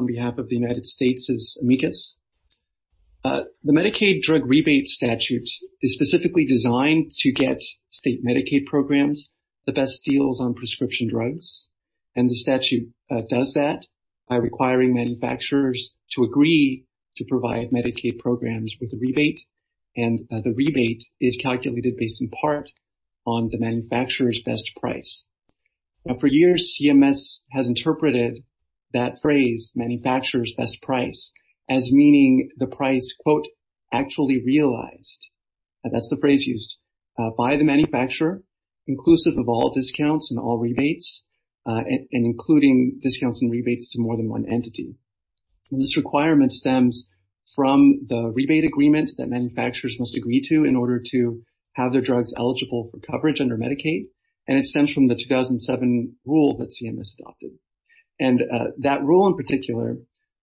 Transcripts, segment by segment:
on behalf of the United States is amicus. The Medicaid drug rebate statutes is specifically designed to get state Medicaid programs the best deals on prescription drugs. And the statute does that by requiring manufacturers to agree to provide Medicaid programs with the rebate. And the rebate is calculated based in part on the manufacturer's best price. Now for years, CMS has interpreted that phrase, manufacturer's best price, as meaning the price, quote, actually realized. That's the phrase used by the manufacturer, inclusive of all discounts and all rebates, and including discounts and rebates to more than one entity. This requirement stems from the rebate agreements that manufacturers must agree to in order to have their drugs eligible for coverage under Medicaid. And it stems from the 2007 rule that CMS adopted. And that rule in particular,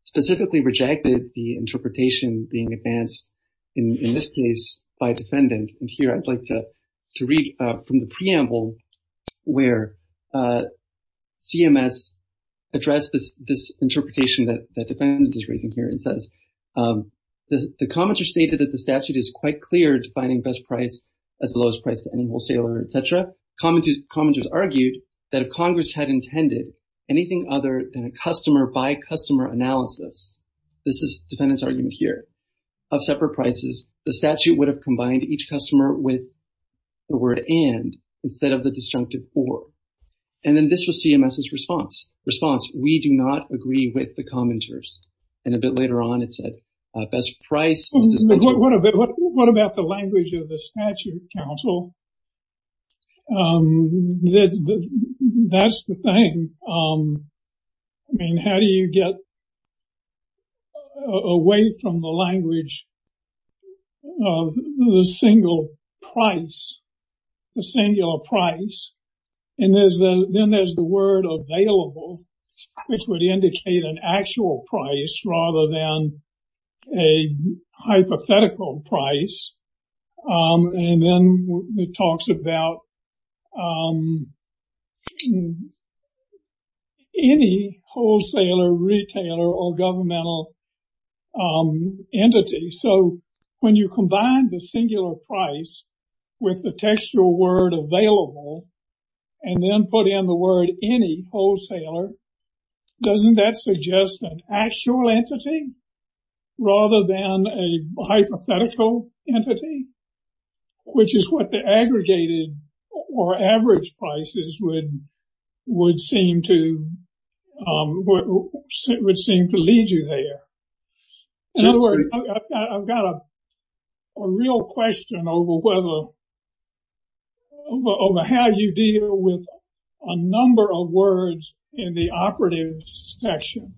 specifically rejected the interpretation being advanced in this case by defendant. And here, I'd like to read from the preamble where CMS addressed this interpretation that the defendant is raising here. It says, the commenter stated that the statute is quite clear defining best price as the lowest price to any wholesaler, et cetera. Commenters argued that if Congress had intended anything other than a customer by customer analysis, this is defendant's argument here, of separate prices, the statute would have combined each customer with the word and, instead of the disjunctive for. And then this was CMS's response. We do not agree with the commenters. And a bit later on, it said, best price. What about the language of the statute, counsel? That's the thing. I mean, how do you get away from the language of the single price, the singular price? And then there's the word available, which would indicate an actual price rather than a hypothetical price. And then it talks about any wholesaler, retailer or governmental entity. So when you combine the singular price with the textual word available, and then put in the word any wholesaler, doesn't that suggest an actual entity rather than a hypothetical entity, which is what the aggregated or average prices would seem to lead you there. In other words, I've got a real question over whether, over how you deal with a number of words in the operative section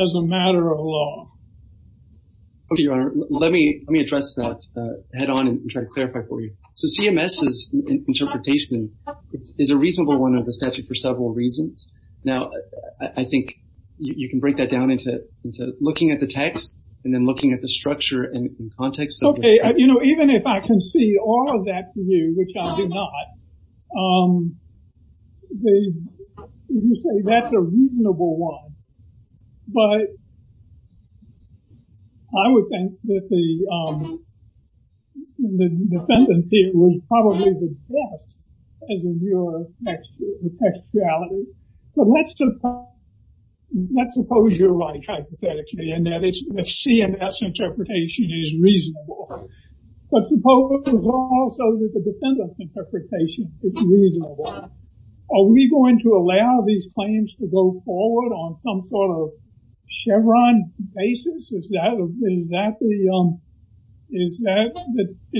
as a matter of law. Okay, your honor, let me address that head on and try to clarify for you. So CMS's interpretation is a reasonable one of the statute for several reasons. Now, I think you can break that down into looking at the text and then looking at the structure and context. Okay, you know, even if I can see all of that view, which I do not, you say that's a reasonable one. But I would think that the dependency was probably the best in your textuality. So let's suppose you're right, hypothetically, and that is the CMS interpretation is reasonable. But suppose also that the defendant's interpretation is reasonable. Are we going to allow these claims to go forward on some sort of Chevron basis? Is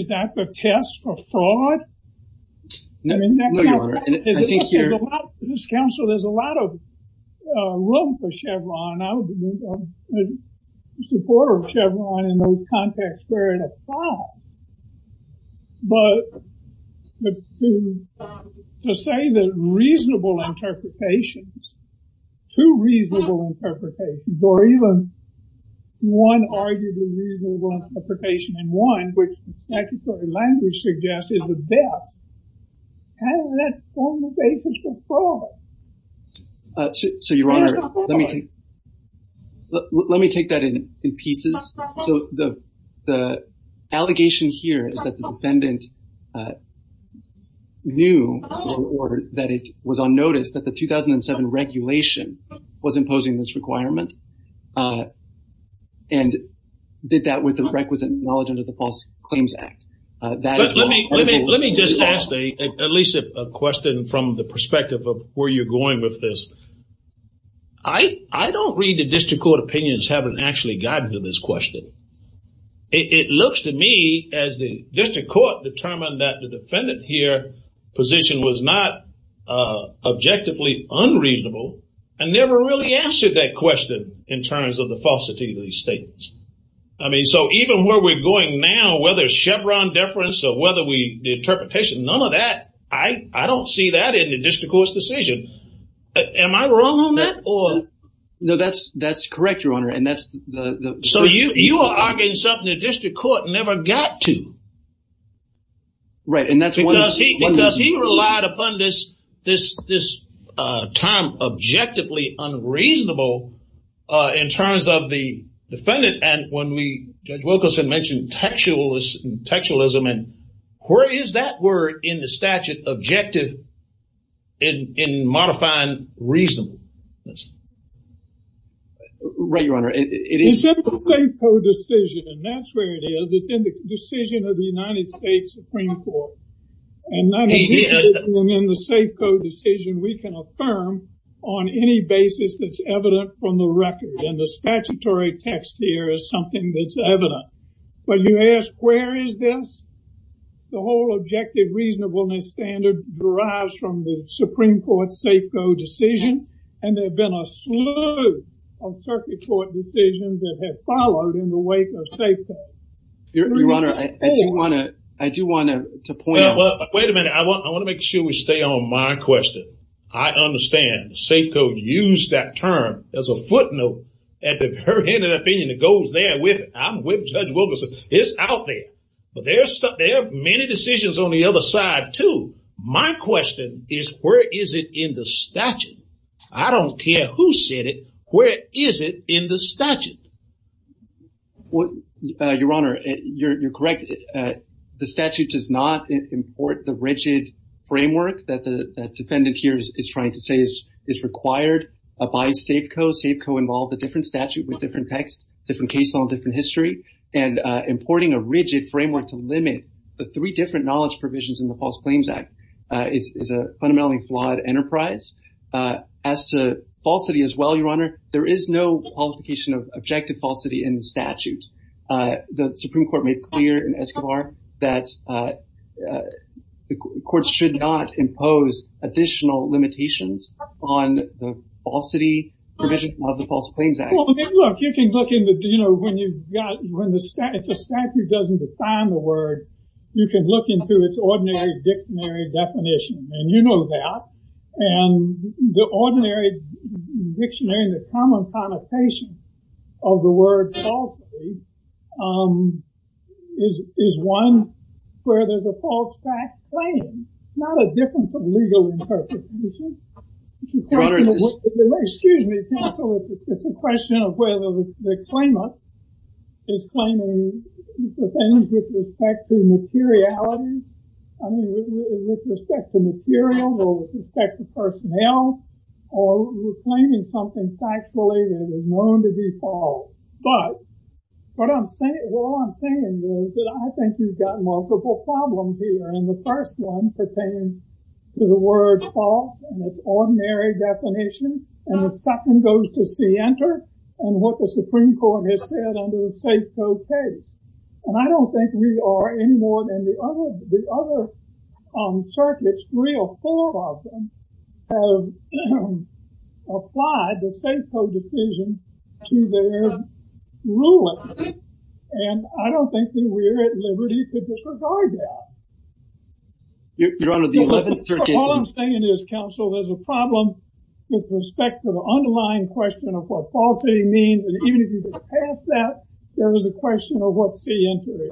that the test for fraud? No, your honor, I think you're- This council, there's a lot of room for Chevron. I would be supportive of Chevron in those contexts where it is found. But to say that reasonable interpretations, two reasonable interpretations, or even one arguably reasonable interpretation in one, which the statutory language suggests is the best, and that's on the basis of fraud. So your honor, let me take that in pieces so the allegation here is that the defendant knew or that it was on notice that the 2007 regulation was imposing this requirement. And did that with the requisite knowledge under the False Claims Act. Let me just ask at least a question from the perspective of where you're going with this. I don't read the district court opinions haven't actually gotten to this question. It looks to me as the district court determined that the defendant here position was not objectively unreasonable and never really answered that question in terms of the falsity of these statements. I mean, so even where we're going now, whether it's Chevron deference or whether the interpretation, none of that, I don't see that in the district court's decision. Am I wrong on that or? No, that's correct, your honor. And that's the- So you are arguing something the district court never got to. Right, and that's why- Because he relied upon this time objectively unreasonable in terms of the defendant. And when we, Judge Wilkerson mentioned textualism and where is that word in the statute objective in modifying reason? Right, your honor, it is- It's in the safe code decision, and that's where it is. It's in the decision of the United States Supreme Court. And that is in the safe code decision we can affirm on any basis that's evident from the record. And the statutory text here is something that's evident. But you ask, where is this? The whole objective reasonableness standard derives from the Supreme Court safe code decision. And there have been a slew of circuit court decisions that have followed in the wake of safe code. Your honor, I do want to point out- Wait a minute, I want to make sure we stay on my question. I understand the safe code used that term as a footnote at the current end of the opinion that goes there with it. I'm with Judge Wilkerson, it's out there. But there are many decisions on the other side too. My question is, where is it in the statute? I don't care who said it, where is it in the statute? Your honor, you're correct. The statute does not import the rigid framework that the defendant here is trying to say is required by safe code. Safe code involves a different statute with different text, different case law, different history. And importing a rigid framework to limit the three different knowledge provisions in the False Claims Act is a fundamentally flawed enterprise. As to falsity as well, your honor, there is no qualification of objective falsity in statute. The Supreme Court made clear in SQR that the court should not impose additional limitations on the falsity provisions of the False Claims Act. Well, look, you can look into, you know, when the statute doesn't define the word, you can look into its ordinary dictionary definition. And you know that. And the ordinary dictionary, the common connotation of the word falsity is one where there's a false fact claim, not a difference of legal interpretation. Excuse me, counsel, it's a question of whether the claimant is claiming things with respect to materiality. I mean, with respect to material, or with respect to personnel, or you're claiming something factually that is known to be false. But what I'm saying is that I think you've got multiple problems here. And the first one pertains to the word false and its ordinary definition. And the second goes to see enter. And what the Supreme Court has said under the safe code case. And I don't think we are any more than the other circuits, three or four of them have applied the safe code decision to their rulers. And I don't think that we're at liberty to disregard that. You're on to the 11th, 13th. All I'm saying is, counsel, there's a problem with respect to the underlying question of what falsity means. And even if you can pass that, there is a question of what's the interior.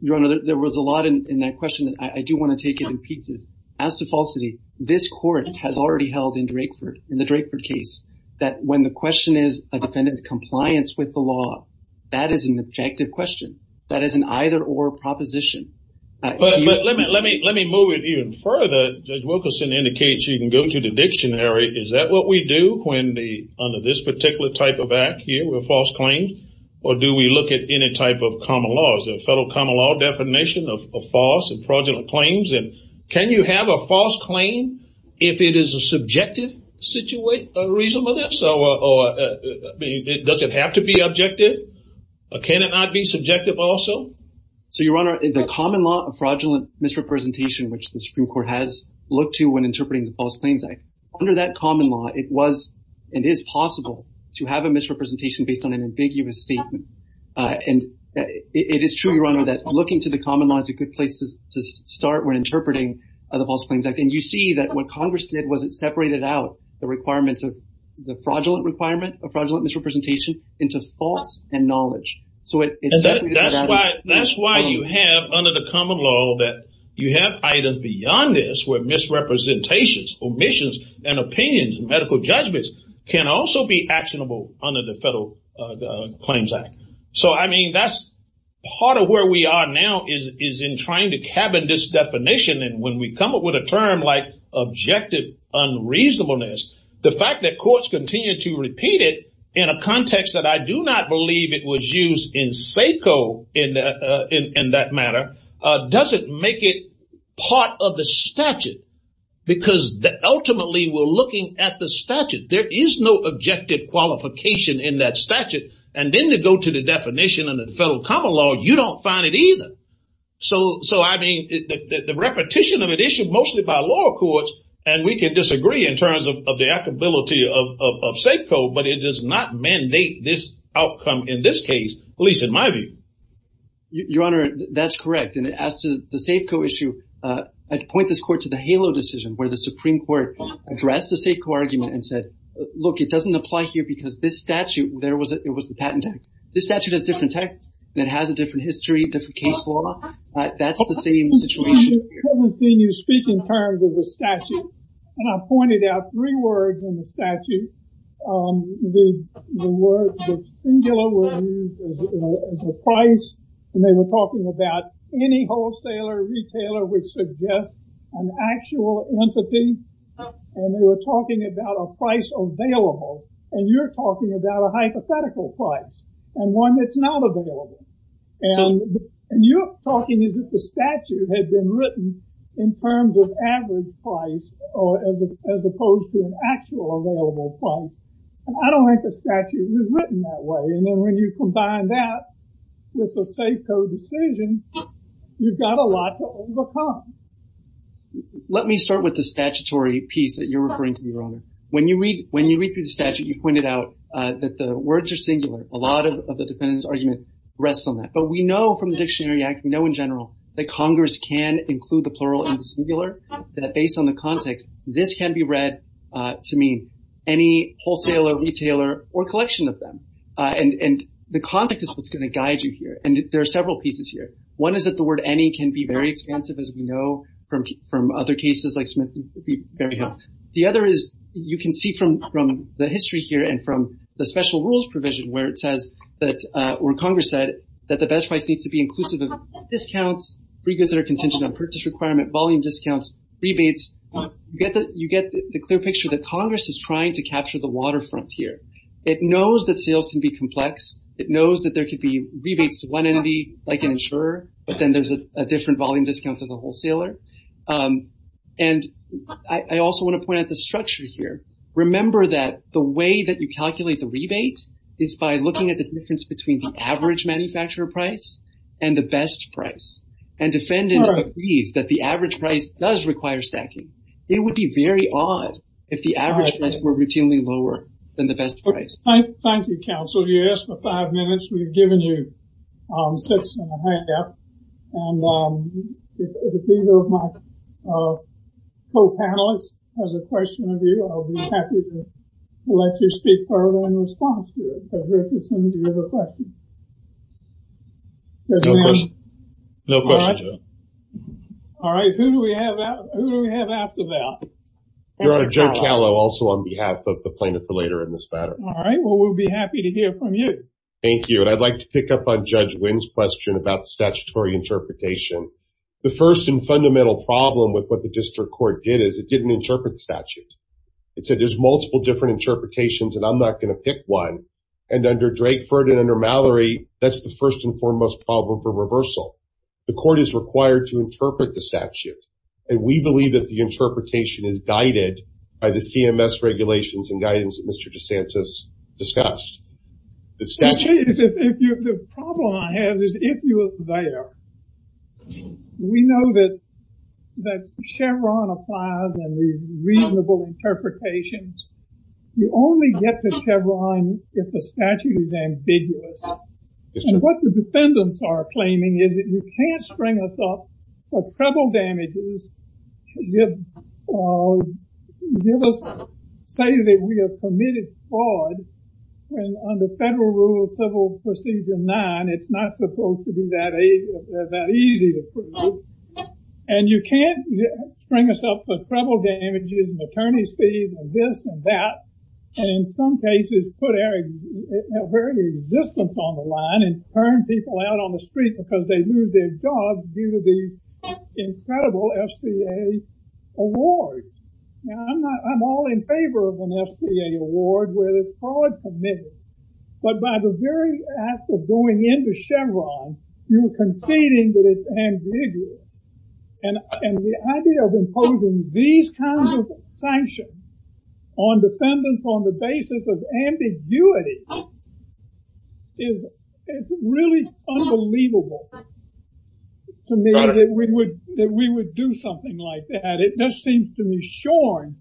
Your Honor, there was a lot in that question. I do want to take it in pieces. As to falsity, this court has already held in Drakeford, in the Drakeford case, that when the question is a defendant's compliance with the law, that is an objective question. That is an either or proposition. But let me move it even further. Judge Wilkerson indicates you can go to the dictionary. Is that what we do when the, under this particular type of act here, we're false claimed? Or do we look at any type of common laws, a federal common law definition of false and fraudulent claims? And can you have a false claim if it is a subjective situation or reason for this? Or does it have to be objective? Can it not be subjective also? So, Your Honor, the common law of fraudulent misrepresentation, which the Supreme Court has looked to when interpreting the False Claims Act, under that common law, it was, it is possible to have a misrepresentation based on an ambiguous statement. And it is true, Your Honor, that looking to the common law is a good place to start when interpreting the False Claims Act. And you see that what Congress did was it separated out the requirements of, the fraudulent requirement of fraudulent misrepresentation into false and knowledge. So it- That's why you have, under the common law, that you have items beyond this where misrepresentations, omissions, and opinions and medical judgments can also be actionable under the Federal Claims Act. So, I mean, that's part of where we are now is in trying to cabin this definition. And when we come up with a term like objective unreasonableness, the fact that courts continue to repeat it in a context that I do not believe it was used in SACO in that matter, doesn't make it part of the statute because ultimately we're looking at the statute. There is no objective qualification in that statute. And then they go to the definition under the Federal Common Law, you don't find it either. So, I mean, the repetition of an issue mostly by law courts, and we can disagree in terms of the applicability of SACO, but it does not mandate this outcome in this case. At least in my view. Your Honor, that's correct. And it adds to the SACO issue. I'd point this court to the HALO decision where the Supreme Court addressed the SACO argument and said, look, it doesn't apply here because this statute, it was the patent. This statute is a different type that has a different history, different case law. That's the same situation. And I pointed out three words in the statute. The word, the singular, the price, and they were talking about any wholesaler, retailer would suggest an actual entity. And they were talking about a price available. And you're talking about a hypothetical price and one that's not available. And you're talking as if the statute had been written in terms of average price as opposed to an actual available price. And I don't think the statute was written that way. And then when you combine that with the SACO decision, you've got a lot to overcome. Let me start with the statutory piece that you're referring to, Your Honor. When you read through the statute, you pointed out that the words are singular. A lot of the defendant's argument rests on that. But we know from the Dictionary Act, we know in general that Congress can include the plural and the singular. That based on the context, this can be read to mean any wholesaler, retailer, or collection of them. And the context is what's gonna guide you here. And there are several pieces here. One is that the word any can be very expensive, as we know from other cases like Smith very high. The other is, you can see from the history here and from the special rules provision where it says that, where Congress said that the best price needs to be inclusive of discounts, free goods that are contingent on purchase requirement, volume discounts, rebates. You get the clear picture that Congress is trying to capture the waterfront here. It knows that sales can be complex. It knows that there could be rebates to one entity like an insurer, but then there's a different volume discount to the wholesaler. And I also wanna point out the structure here. Remember that the way that you calculate the rebate is by looking at the difference between the average manufacturer price and the best price. And defendant agrees that the average price does require stacking. It would be very odd if the average price were routinely lower than the best price. Thank you, counsel. You asked for five minutes. We've given you six and a half. And if either of my co-panelists has a question of you, I'll be happy to let you speak further in response to it. So, here's the question. Does it matter? No question, Joe. All right, who do we have after that? We have Joe Calo also on behalf of the plaintiff later in this matter. All right, well, we'll be happy to hear from you. Thank you. And I'd like to pick up on Judge Wynn's question about statutory interpretation. The first and fundamental problem with what the district court did is it didn't interpret the statute. It said there's multiple different interpretations and I'm not gonna pick one. And under Drakeford and under Mallory, that's the first and foremost problem for reversal. The court is required to interpret the statute. And we believe that the interpretation is guided by the CMS regulations and guidance that Mr. DeSantis discussed. The statute- Actually, the problem I have is if you look there, we know that Chevron applies on the reasonable interpretations. You only get to Chevron if the statute is ambiguous. And what the defendants are claiming is that you can't spring us up for trouble damages to give us, say that we have committed fraud when under federal rules for Season 9, it's not supposed to be that easy to prove. And you can't bring us up for trouble damages and attorney's fees and this and that. And in some cases, put air resistance on the line and turn people out on the street because they lose their jobs due to the incredible SBA award. Now, I'm all in favor of an SBA award where it's fraud committed. But by the very act of going into Chevron, you're conceding that it's ambiguous. And the idea of imposing these kinds of sanctions on defendants on the basis of ambiguity is really unbelievable to me that we would do something like that. It just seems to be shorn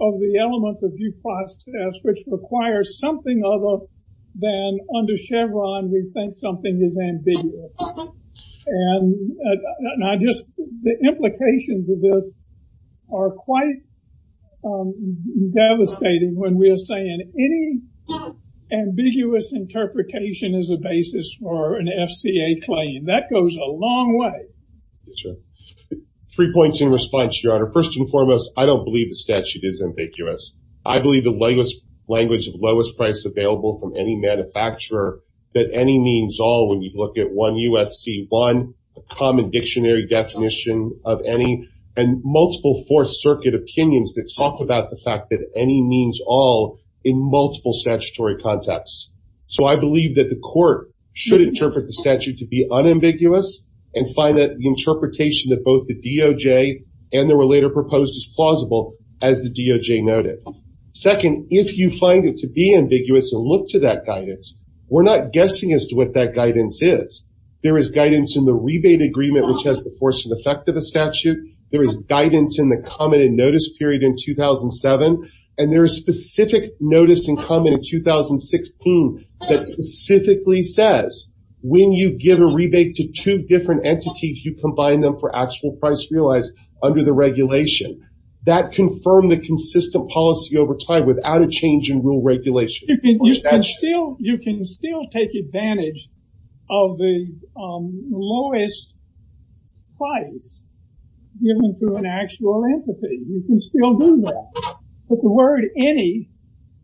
of the elements of Dupont's test which requires something other than under Chevron, we've got something that's ambiguous. And I just, the implications of this are quite devastating when we're saying any ambiguous interpretation is a basis for an FCA claim. That goes a long way. Three points in response, Your Honor. First and foremost, I don't believe the statute is ambiguous. I believe the latest language of lowest price available from any manufacturer that any means all when you look at one UFC one, a common dictionary definition of any and multiple four circuit opinions that talk about the fact that any means all in multiple statutory contexts. So I believe that the court should interpret the statute to be unambiguous and find that the interpretation that both the DOJ and there were later proposed as plausible as the DOJ noted. Second, if you find it to be ambiguous and look to that guidance, we're not guessing as to what that guidance is. There is guidance in the rebate agreement which has the force and effect of the statute. There is guidance in the common notice period in 2007 and there's specific notice in common in 2016 that specifically says when you give a rebate to two different entities, you combine them for actual price realized under the regulation. That confirmed the consistent policy over time without a change in rule regulation. You can still take advantage of the lowest price given to an actual entity. You can still do that. But the word any,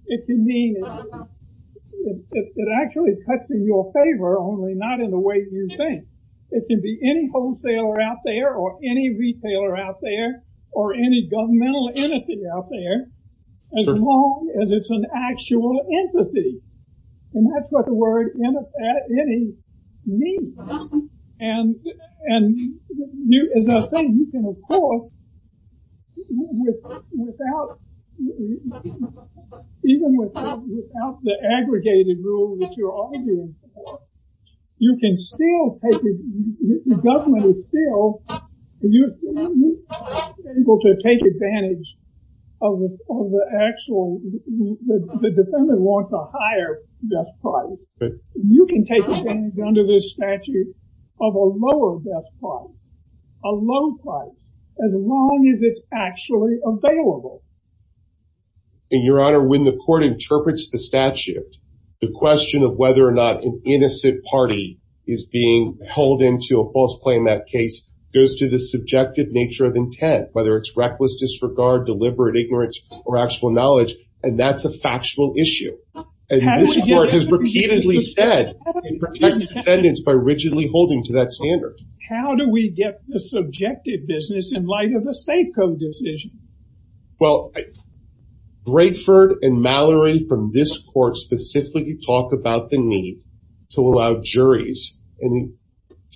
it can mean, it actually cuts in your favor only not in the way you think. It can be any wholesaler out there or any retailer out there or any governmental entity out there as long as it's an actual entity. And that's what the word any means. And as I was saying, you can of course, even without the aggregated rule which you're arguing for, you can still take, the government is still, you're able to take advantage of the actual, the defendant wants a higher death price. You can take advantage under this statute of a lower death price, a low price, as long as it's actually available. And your honor, when the court interprets the statute, the question of whether or not an innocent party is being held into a false claim in that case goes to the subjective nature of intent, whether it's reckless disregard, deliberate ignorance, or actual knowledge. And that's a factual issue. And this court has repeatedly said, it protects defendants by rigidly holding to that standard. How do we get the subjective business in light of a FACO decision? Well, Brayford and Mallory from this court specifically talk about the need to allow juries and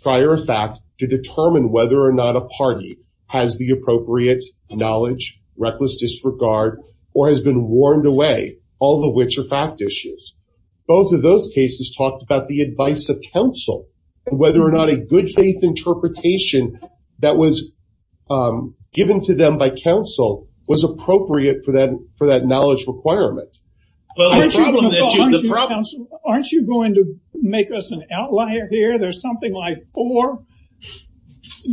prior facts to determine whether or not a party has the appropriate knowledge, reckless disregard, or has been warned away, all of which are fact issues. Both of those cases talked about the advice of counsel and whether or not a good faith interpretation that was given to them by counsel was appropriate for that knowledge requirement. Aren't you going to make us an outlier here? There's something like four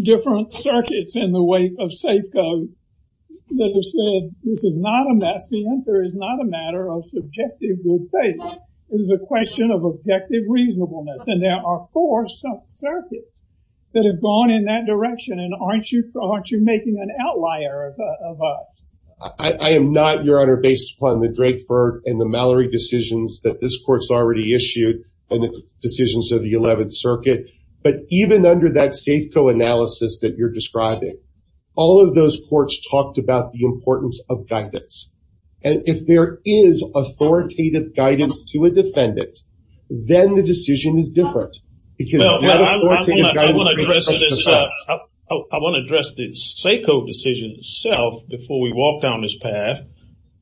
different circuits in the weight of FACO that have said this is not a mess. The answer is not a matter of subjective good faith. It is a question of objective reasonableness. And there are four circuits that have gone in that direction. And aren't you making an outlier of us? I am not, Your Honor, based upon the Brayford and the Mallory decisions that this court's already issued and the decisions of the 11th Circuit. But even under that FACO analysis that you're describing, all of those courts talked about the importance of guidance. And if there is authoritative guidance to a defendant, then the decision is different. I want to address the FACO decision itself before we walk down this path.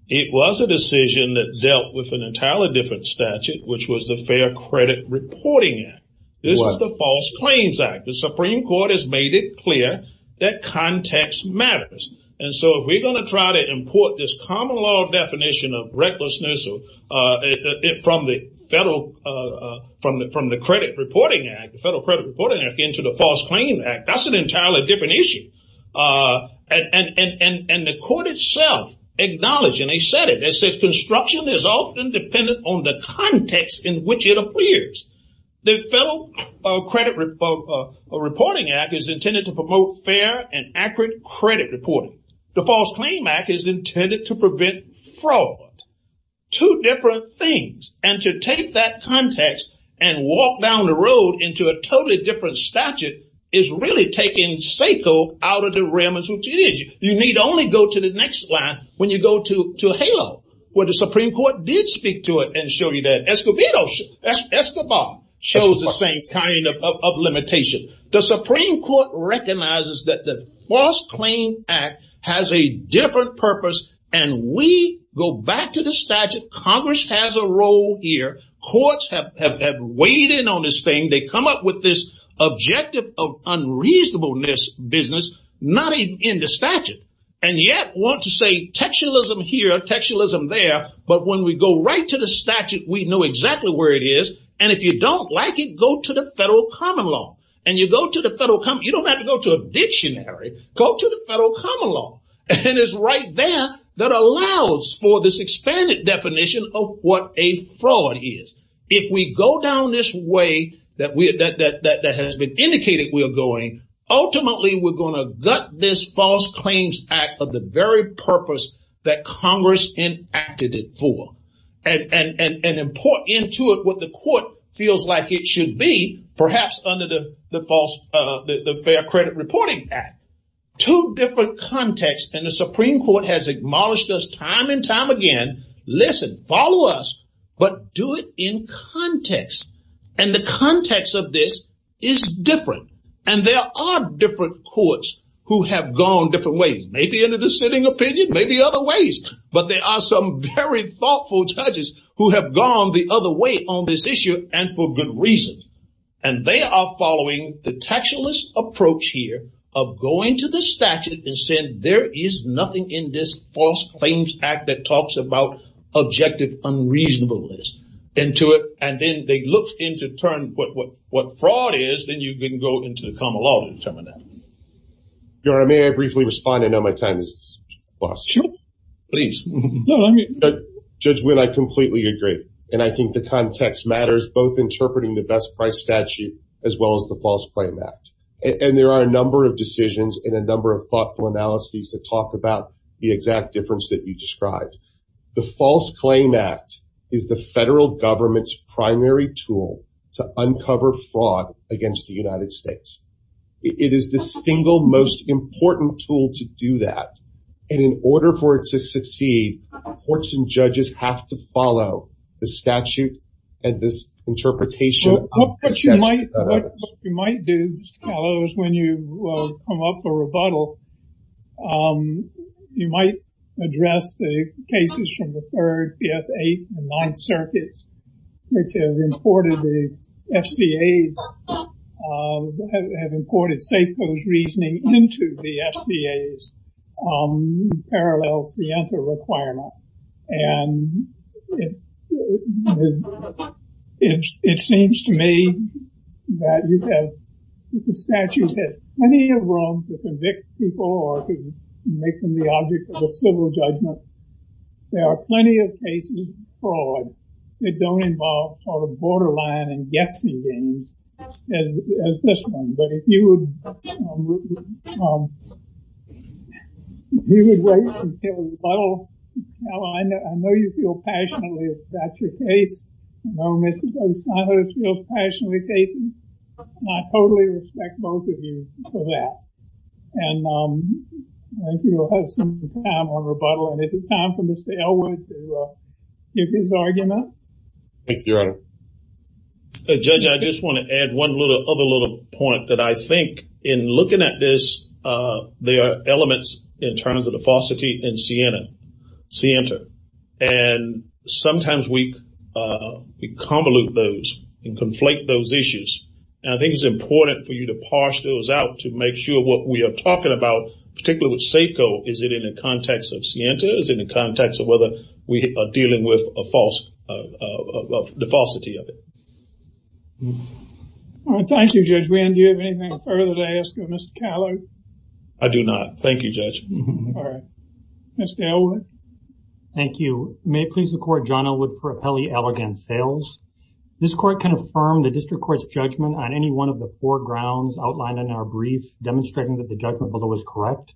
It was a decision that dealt with an entirely different statute, which was the Fair Credit Reporting Act. This is the False Claims Act. The Supreme Court has made it clear that context matters. And so if we're going to try to import this common law definition of recklessness from the Federal Credit Reporting Act into the False Claims Act, that's an entirely different issue. And the court itself acknowledged, and they said it, they said construction is often dependent on the context in which it appears. The Federal Credit Reporting Act is intended to promote fair and accurate credit reporting. The False Claims Act is intended to prevent fraud. Two different things. And to take that context and walk down the road into a totally different statute is really taking FACO out of the realms which it is. You need only go to the next line when you go to hell, where the Supreme Court did speak to it and show you that Escobedo, Escobar, shows the same kind of limitation. The Supreme Court recognizes that the False Claims Act has a different purpose, and we go back to the statute. Congress has a role here. Courts have weighed in on this thing. They come up with this objective of unreasonableness business, not in the statute, and yet want to say textualism here, textualism there, but when we go right to the statute, we know exactly where it is, and if you don't like it, go to the Federal Common Law. And you go to the Federal Common Law, you don't have to go to a dictionary. Go to the Federal Common Law, and it's right there that allows for this expanded definition of what a fraud is. If we go down this way ultimately we're gonna gut this False Claims Act of the very purpose that Congress enacted it for, and import into it what the court feels like it should be, perhaps under the Fair Credit Reporting Act. Two different contexts, and the Supreme Court has acknowledged this time and time again, listen, follow us, but do it in context, and the context of this is different, and there are different courts who have gone different ways. Maybe in a dissenting opinion, maybe other ways, but there are some very thoughtful judges who have gone the other way on this issue, and for good reason, and they are following the textualist approach here of going to the statute and saying there is nothing in this False Claims Act that talks about objective unreasonableness into it, and then they look into what fraud is, then you can go into the Common Law to determine that. Your Honor, may I briefly respond? I know my time is lost. Sure. Please. No, let me- Judgment, I completely agree, and I think the context matters, both interpreting the Best Price Statute as well as the False Claims Act, and there are a number of decisions and a number of thoughtful analyses that talk about the exact difference that you described. The False Claims Act is the federal government's primary tool to uncover fraud against the United States. It is the single most important tool to do that, and in order for it to succeed, courts and judges have to follow the statute and this interpretation- What you might do when you come up for rebuttal, you might address the cases from the third, the F8, the non-circuits, which have imported the FBA's, have imported SEPA's reasoning into the FBA's parallel preemptive requirement, and it seems to me that the statute has plenty of room to convict people or to make them the object of a civil judgment. There are plenty of cases of fraud. It don't involve sort of borderline and guesstimating as this one, but if you would wait until rebuttal, now I know you feel passionately about your case, I know Mr. O'Shaughnessy feels passionately about his case, and I totally respect both of you for that, and I think we'll have some time on rebuttal, and if it's time for Mr. Elwood to give his argument. Thank you, Your Honor. Judge, I just want to add one other little point that I think in looking at this, there are elements in terms of the falsity in Siena, Sienta, and sometimes we convolute those and conflate those issues, and I think it's important for you to parse those out to make sure what we are talking about, particularly with SACO, is it in the context of Sienta, is it in the context of whether we are dealing with the falsity of it? Thank you, Judge. Do you have anything further to ask of Mr. Callard? I do not. Thank you, Judge. Mr. Elwood. Thank you. May it please the court, John Elwood for Appellee Allegan Fails. This court can affirm the district court's judgment on any one of the four grounds outlined in our brief demonstrating that the judgment below is correct.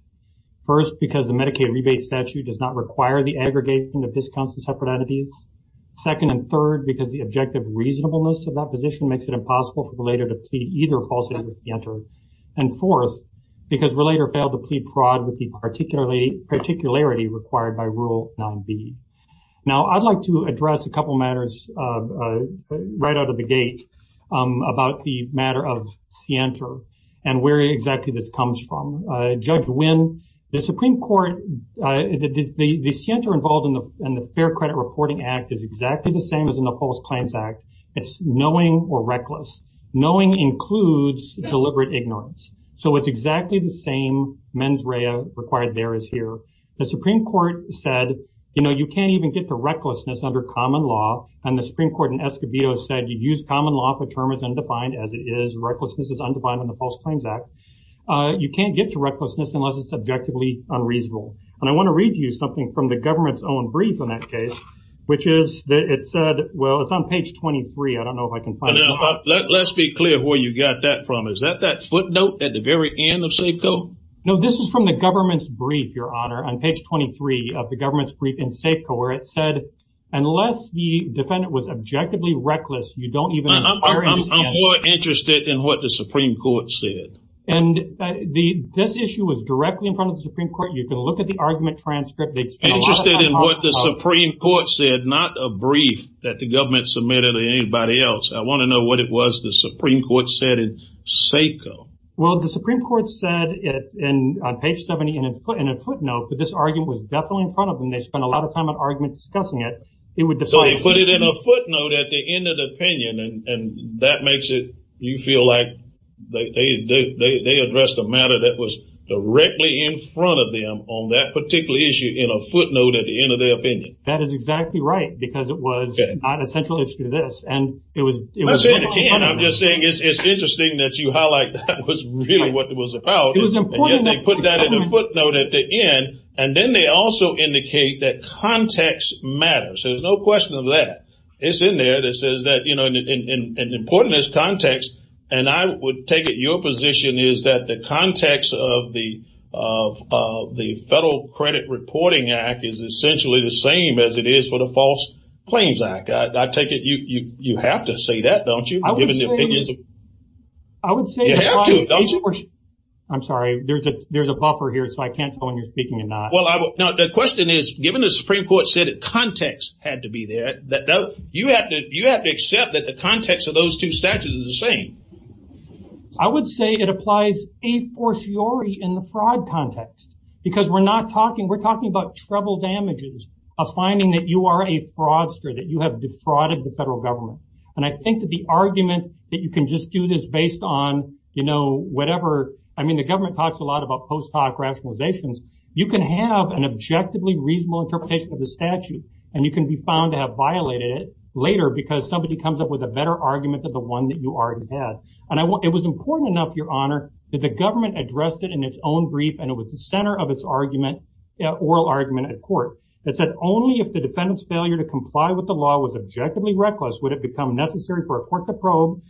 First, because the Medicaid Rebate Statute does not require the aggregation of this concept of separate entities. Second and third, because the objective reasonableness of that position makes it impossible for the relator to plead either falsely or with Sienta. And fourth, because relator failed to plead fraud with the particularity required by Rule B. Now, I'd like to address a couple matters right out of the gate about the matter of Sienta and where exactly this comes from. Judge Wynn, the Supreme Court, the Sienta involved in the Fair Credit Reporting Act is exactly the same as in the False Claims Act. It's knowing or reckless. Knowing includes deliberate ignorance. So it's exactly the same mens rea required there as here. The Supreme Court said, you know, you can't even get to recklessness under common law. And the Supreme Court in Escobedo said, you use common law for a term as undefined as it is. Recklessness is undefined in the False Claims Act. You can't get to recklessness unless it's objectively unreasonable. And I want to read you something from the government's own brief in that case, which is, it said, well, it's on page 23. I don't know if I can find it. Let's be clear where you got that from. Is that that footnote at the very end of Safeco? No, this is from the government's brief, Your Honor, on page 23 of the government's brief in Safeco, where it said, unless the defendant was objectively reckless, you don't even- I'm more interested in what the Supreme Court said. And this issue was directly in front of the Supreme Court. You can look at the argument transcript. It's- Interested in what the Supreme Court said, not a brief that the government submitted to anybody else. I want to know what it was the Supreme Court said in Safeco. Well, the Supreme Court said it on page 70 in a footnote, but this argument was definitely in front of them. They spent a lot of time on argument discussing it. It would decide- So they put it in a footnote at the end of the opinion, and that makes it- You feel like they addressed a matter that was directly in front of them on that particular issue in a footnote at the end of their opinion. That is exactly right, because it was not a central issue to this, and it was- Okay, and I'm just saying it's interesting that you highlight that was really what it was about. It was important that- And then they put that in a footnote at the end, and then they also indicate that context matters. There's no question of that. It's in there. It says that, you know, and important is context, and I would take it your position is that the context of the Federal Credit Reporting Act is essentially the same as it is for the False Claims Act. I take it you have to say that, don't you? I would say- I would say- You have to, don't you? I'm sorry, there's a buffer here, so I can't tell when you're speaking or not. Well, the question is, given the Supreme Court said that context had to be there, you have to accept that the context of those two statutes is the same. I would say it applies a fortiori in the fraud context, because we're not talking, we're talking about trouble damages of finding that you are a fraudster, that you have defrauded the federal government. And I think that the argument that you can just do this based on, you know, whatever, I mean, the government talks a lot about post hoc rationalizations. You can have an objectively reasonable interpretation of the statute, and you can be found to have violated it later because somebody comes up with a better argument than the one that you already had. And it was important enough, Your Honor, that the government addressed it in its own brief, and it was the center of its argument, oral argument at court. It said only if the defendant's failure to comply with the law was objectively reckless would it become necessary for a court to probe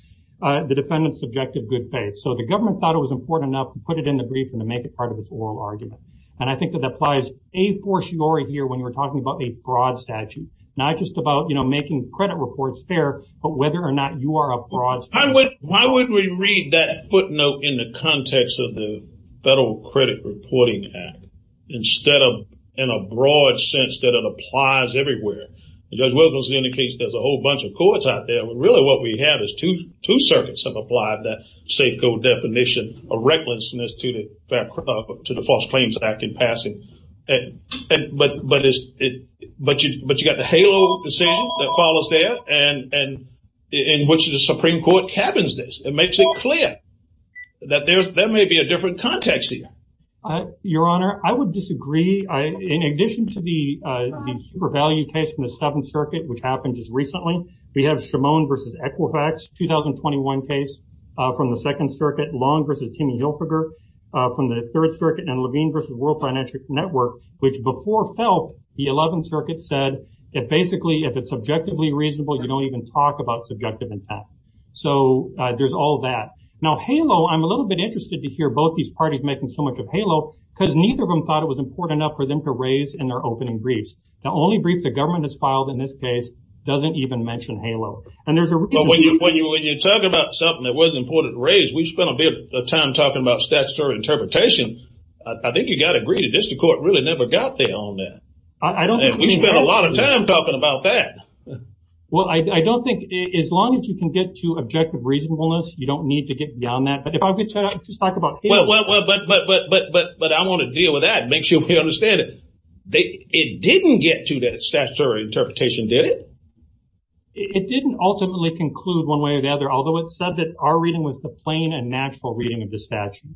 the defendant's subjective good faith. So the government thought it was important enough to put it in the brief and to make it part of its oral argument. And I think that that applies a fortiori here when you're talking about a broad statute, not just about, you know, making credit reports fair, but whether or not you are a broad statute. Why would we read that footnote in the context of the Federal Credit Reporting Act instead of in a broad sense that it applies everywhere? Judge Wilkins indicates there's a whole bunch of courts out there, but really what we have is two circuits have applied that SACO definition of recklessness to the False Claims Act in passing. But you got the HALO decision that follows there and in which the Supreme Court cabins this. It makes it clear that there may be a different context here. Your Honor, I would disagree. In addition to the super value case from the Seventh Circuit, which happened just recently, we have Shimone versus Equifax, 2021 case from the Second Circuit, Long versus Kimme Hilfiger from the Third Circuit, and Levine versus World Financial Network, which before fell, the Eleventh Circuit said that basically if it's subjectively reasonable, you don't even talk about subjective intent. So there's all that. Now, HALO, I'm a little bit interested to hear both these parties making so much of HALO because neither of them thought it was important enough for them to raise in their opening briefs. The only brief the government has filed in this case doesn't even mention HALO. And there's a- When you talk about something that was important to raise, we spent a bit of time talking about statutory interpretation. I think you got to agree, District Court really never got there on that. I don't think- And we spent a lot of time talking about that. Well, I don't think, as long as you can get to objective reasonableness, you don't need to get beyond that. But if I could just talk about HALO- Well, but I want to deal with that and make sure we understand it. It didn't get to that statutory interpretation, did it? It didn't ultimately conclude one way or the other, although it said that our reading was the plain and natural reading of the statute.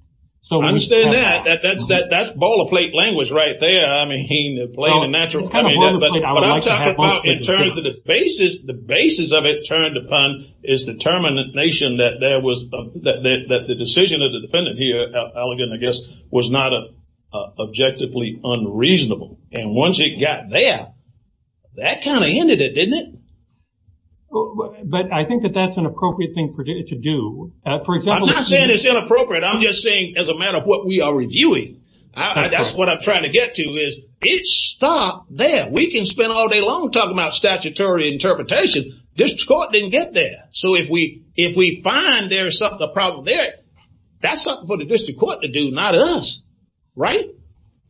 So we- I understand that. That's ball of plate language right there. I mean, plain and natural. I mean, but I'm talking about in terms of the basis, the basis of it turned upon is determination that there was, that the decision of the defendant here, Elegant, I guess, was not objectively unreasonable. And once it got there, that kind of ended it, didn't it? But I think that that's an appropriate thing to do. For example- I'm not saying it's inappropriate. I'm just saying, as a matter of what we are reviewing, that's what I'm trying to get to is, it stopped there. We can spend all day long talking about statutory interpretation. District Court didn't get there. So if we find there's something, a problem there, that's something for the District Court to do, not us. Right?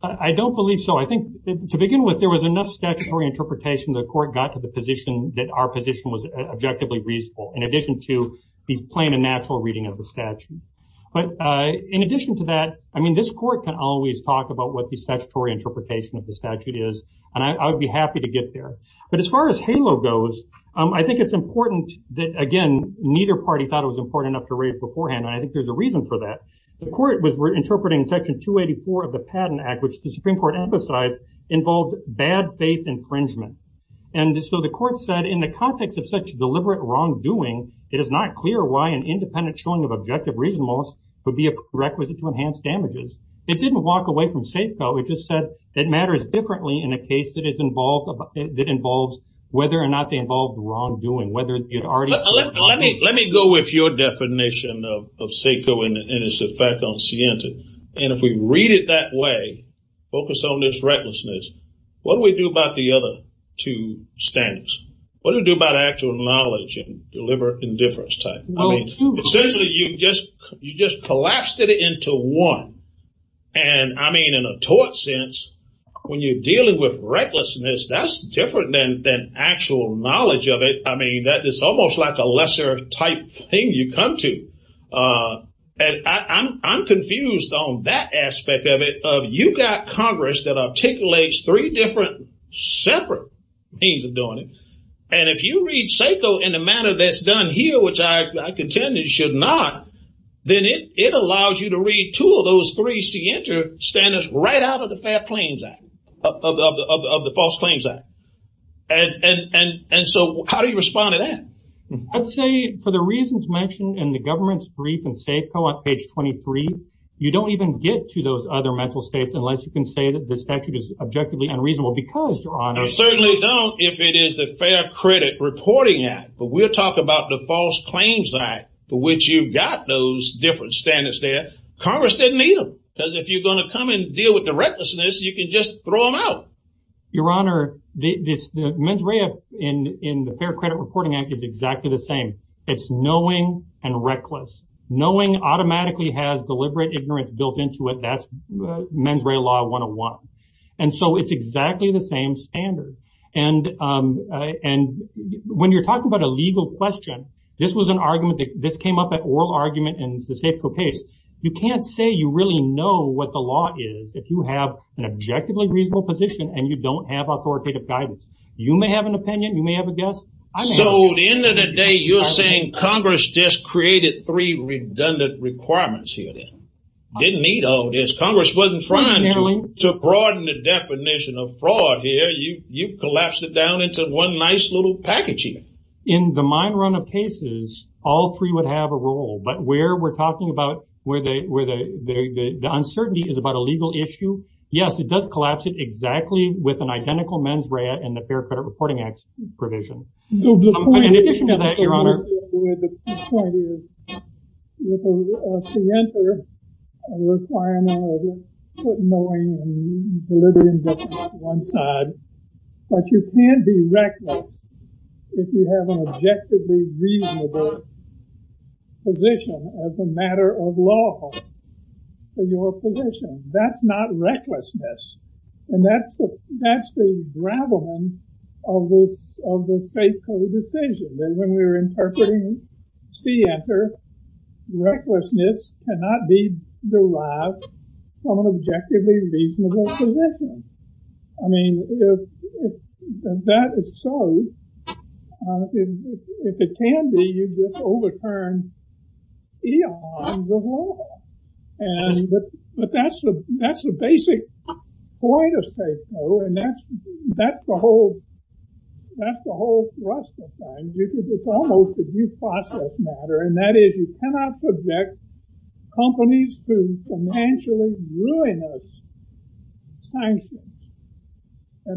I don't believe so. I think, to begin with, there was enough statutory interpretation the court got to the position that our position was objectively reasonable. In addition to the plain and natural reading of the statute. But in addition to that, I mean, this court can always talk about what the statutory interpretation of the statute is. And I'd be happy to get there. But as far as HALO goes, I think it's important that, again, neither party thought it was important enough to raise beforehand. And I think there's a reason for that. The court was interpreting Section 284 of the Patent Act, which the Supreme Court emphasized involved bad faith infringement. And so the court said, in the context of such deliberate wrongdoing, it is not clear why an independent showing of objective reasonableness would be a requisite to enhanced damages. It didn't walk away from SACO. It just said it matters differently in a case that involves, whether or not they involved wrongdoing, whether it already- Let me go with your definition of SACO and its effect on Sienta. And if we read it that way, focus on this recklessness, what do we do about the other two standards? What do we do about actual knowledge and deliberate indifference type? I mean, essentially, you just collapsed it into one. And I mean, in a tort sense, when you're dealing with recklessness, that's different than actual knowledge of it. I mean, that is almost like a lesser type thing you come to. And I'm confused on that aspect of it, of you got Congress that articulates three different separate means of doing it. And if you read SACO in the manner that's done here, which I contend it should not, then it allows you to read two of those three Sienta standards right out of the Fair Claims Act, of the False Claims Act. And so how do you respond to that? I'd say, for the reasons mentioned in the government's brief in SACO, on page 23, you don't even get to those other mental states unless you can say that this statute is objectively unreasonable, because, Your Honor- I certainly don't, if it is the Fair Credit Reporting Act. But we'll talk about the False Claims Act, for which you've got those different standards there. Congress doesn't need them, because if you're gonna come and deal with the recklessness, you can just throw them out. Your Honor, the mens rea in the Fair Credit Reporting Act is exactly the same. It's knowing and reckless. Knowing automatically has deliberate ignorance built into it, that's mens rea law 101. And so it's exactly the same standard. And when you're talking about a legal question, this was an argument that came up, that oral argument in the SACO case. You can't say you really know what the law is, if you have an objectively reasonable position and you don't have authoritative guidance. You may have an opinion, you may have a guess. I don't have- So, at the end of the day, you're saying Congress just created three redundant requirements here, then? Didn't need all this. Congress wasn't trying to broaden the definition of fraud here. You collapsed it down into one nice little package here. In the mine run of cases, all three would have a role. But where we're talking about, where the uncertainty is about a legal issue, yes, it does collapse it exactly with an identical mens rea in the Fair Credit Reporting Act provision. In addition to that, Your Honor- The point is, with a preemptive requirement of knowing and delivering justice on one side. But you can't be reckless if you have an objectively reasonable position as a matter of law for your position. That's not recklessness. And that's the graveling of the SACO decision. Remember when we were interpreting the SACO, recklessness cannot be derived from an objectively reasonable position. I mean, if that is so, if it can be, you just overturned E.O. on the law. And that's the basic point of SACO, and that's the whole thrust of things. It's almost a due process matter. And that is, you cannot project companies to financially ruin us. And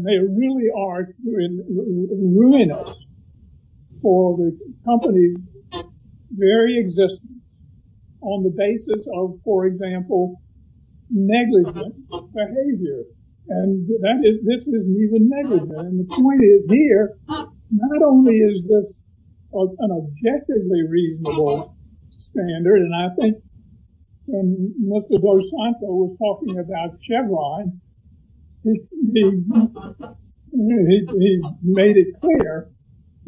they really are ruining us for the company's very existence on the basis of, for example, negligent behavior. And this is even negligent. And the point is here, not only is this an objectively reasonable standard, and I think when Mr. Dos Santos was talking about Chevron, he made it clear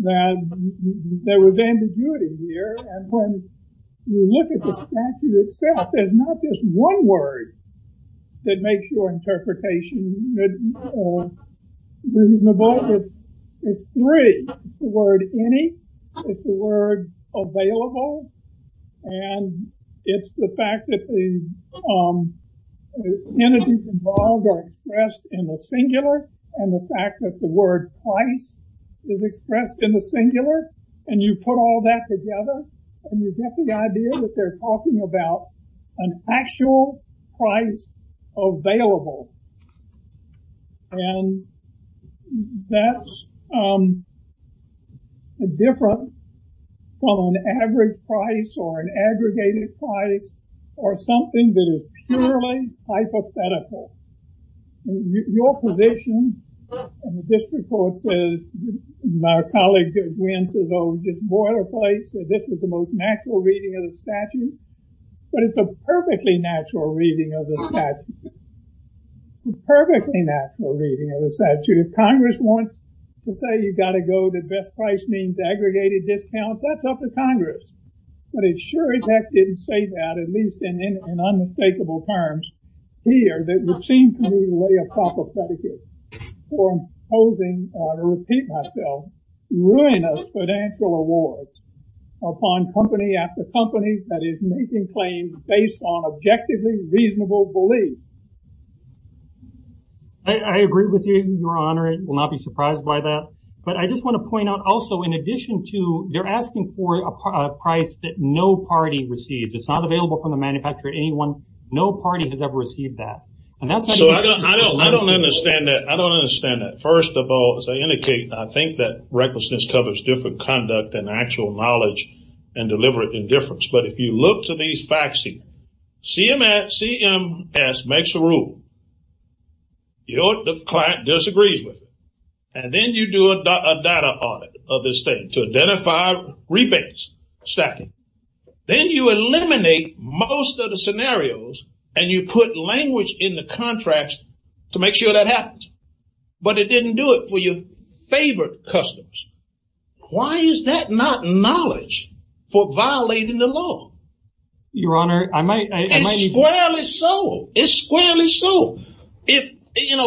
that there was ambiguity here. And when you look at the statute itself, there's not just one word that makes your interpretation. The word is three, it's the word any, it's the word available, and it's the fact that the entities involved are expressed in the singular, and the fact that the word price is expressed in the singular and you put all that together, and you get the idea that they're talking about an actual price available. And that's a difference on an average price or an aggregated price, or something that is purely hypothetical. Your position, and the district court says, my colleague went to the boilerplate, so this is the most natural reading of the statute, but it's a perfectly natural reading of the statute. It's a perfectly natural reading of the statute. Congress wants to say you gotta go that best price means aggregated discounts, that's up to Congress, but it sure as heck didn't say that, at least in unmistakable terms here, that would seem to me a way of propaganda, or imposing, and I'll repeat myself, ruin of financial awards upon company after company that is making claims based on objectively reasonable belief. I agree with you, your honor, will not be surprised by that, but I just want to point out also, in addition to, you're asking for a price that no party received, it's not available from a manufacturer, anyone, no party has ever received that. And that's- So I don't understand that. I don't understand that. First of all, as I indicated, I think that recklessness covers different conduct than actual knowledge and deliberate indifference, but if you look to these facts, CMS makes a rule, your client disagrees with it, and then you do a data audit of this thing to identify rebates, stacking, then you eliminate most of the scenarios and you put language in the contracts to make sure that happens, but it didn't do it for your favorite customers. Why is that not knowledge for violating the law? Your honor, I might- It's squarely so, it's squarely so.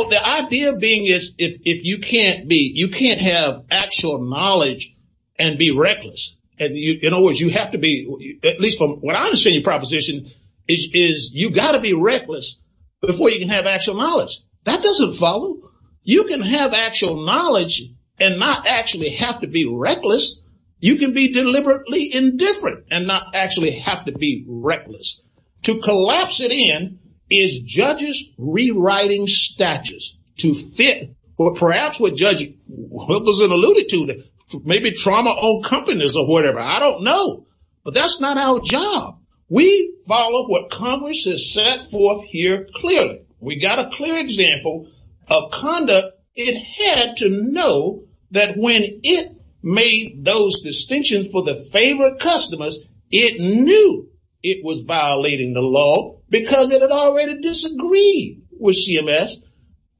The idea being is, if you can't be, you can't have actual knowledge and be reckless, and in other words, you have to be, at least from what I understand your proposition, is you gotta be reckless before you can have actual knowledge. That doesn't follow. You can have actual knowledge and not actually have to be reckless. You can be deliberately indifferent and not actually have to be reckless. To collapse it in is judges rewriting statutes to fit, or perhaps what judges, what was it alluded to? Maybe trauma on companies or whatever, I don't know, but that's not our job. We follow what Congress has set forth here clearly. We got a clear example of conduct it had to know that when it made those distinctions for the favorite customers, it knew it was violating the law because it had already disagreed with CMS,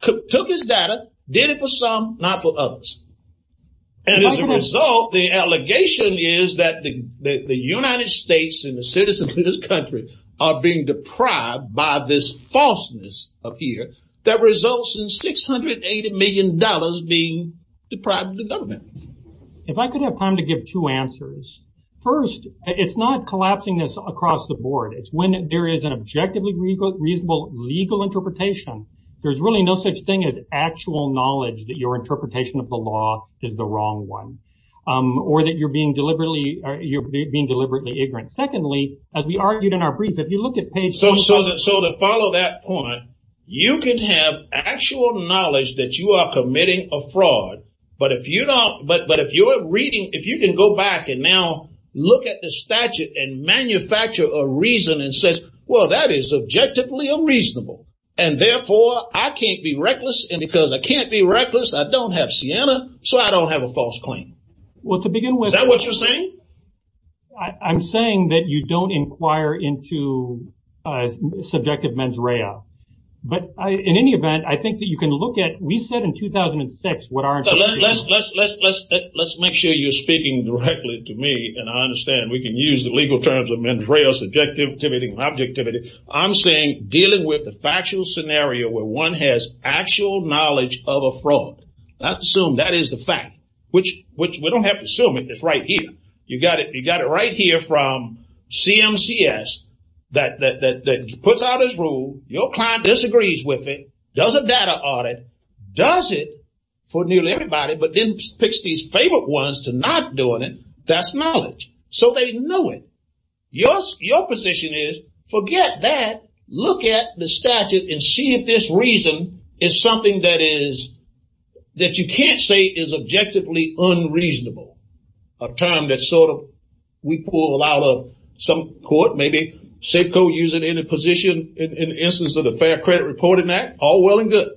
took its data, did it for some, not for others. And as a result, the allegation is that the United States are being deprived by this falseness up here that results in $680 million being deprived of government. If I could have time to give two answers. First, it's not collapsing this across the board. It's when there is an objectively reasonable legal interpretation. There's really no such thing as actual knowledge that your interpretation of the law is the wrong one or that you're being deliberately ignorant. Secondly, as we argued in our brief, if you look at page- So to follow that point, you can have actual knowledge that you are committing a fraud, but if you're reading, if you can go back and now look at the statute and manufacture a reason and says, well, that is objectively unreasonable. And therefore I can't be reckless and because I can't be reckless, I don't have Siena, so I don't have a false claim. Well, to begin with- Is that what you're saying? I'm saying that you don't inquire into subjective mens rea. But in any event, I think that you can look at, we said in 2006, what our- Let's make sure you're speaking directly to me and I understand we can use the legal terms of mens rea, subjectivity and objectivity. I'm saying dealing with the factual scenario where one has actual knowledge of a fraud. That's assumed that is the fact, which we don't have to assume it, it's right here. You got it right here from CMCS that you put out this rule, your client disagrees with it, does a data audit, does it for nearly everybody, but then picks these favorite ones to not doing it, that's knowledge. So they know it. Your position is forget that, look at the statute and see if this reason is something that you can't say is objectively unreasonable, a term that sort of we pull out of some court, maybe safe code using any position in the instance of the Fair Credit Reporting Act, all well and good.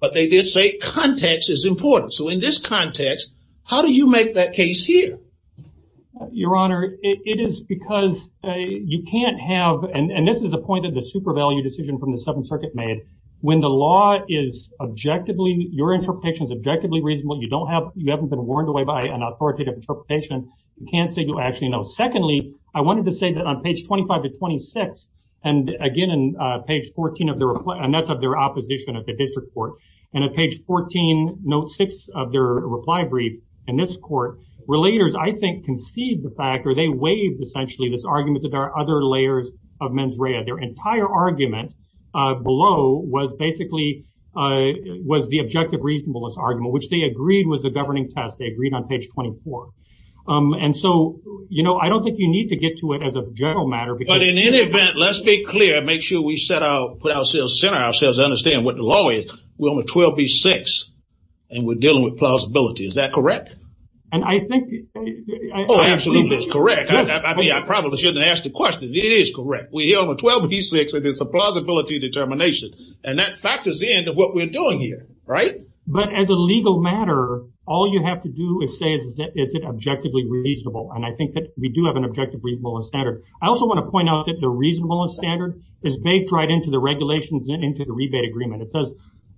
But they did say context is important. So in this context, how do you make that case here? Your Honor, it is because you can't have, and this is the point of the super value decision from the Seventh Circuit made, when the law is objectively, your interpretation is objectively reasonable, you don't have, you haven't been warned away by an authoritative interpretation, you can't say you actually know. Secondly, I wanted to say that on page 25 to 26, and again, in page 14 of their, and that's of their opposition at the district court, and at page 14, note six of their reply brief, in this court, relators I think concede the fact or they waive essentially this argument that there are other layers of mens rea. Their entire argument below was basically, was the objective reasonableness argument, which they agreed with the governing task, they agreed on page 24. And so, you know, I don't think you need to get to it as a general matter, because- But in any event, let's be clear, make sure we set out, put ourselves, center ourselves, understand what the law is. We're on 12B6, and we're dealing with plausibility, is that correct? And I think- Oh, absolutely, that's correct. I probably shouldn't ask the question, it is correct. We're here on 12B6, and it's a plausibility determination. And that factors in to what we're doing here, right? But as a legal matter, all you have to do is say, is it objectively reasonable? And I think that we do have an objective reasonableness standard. I also want to point out that the reasonableness standard is baked right into the regulations and into the rebate agreement. It says,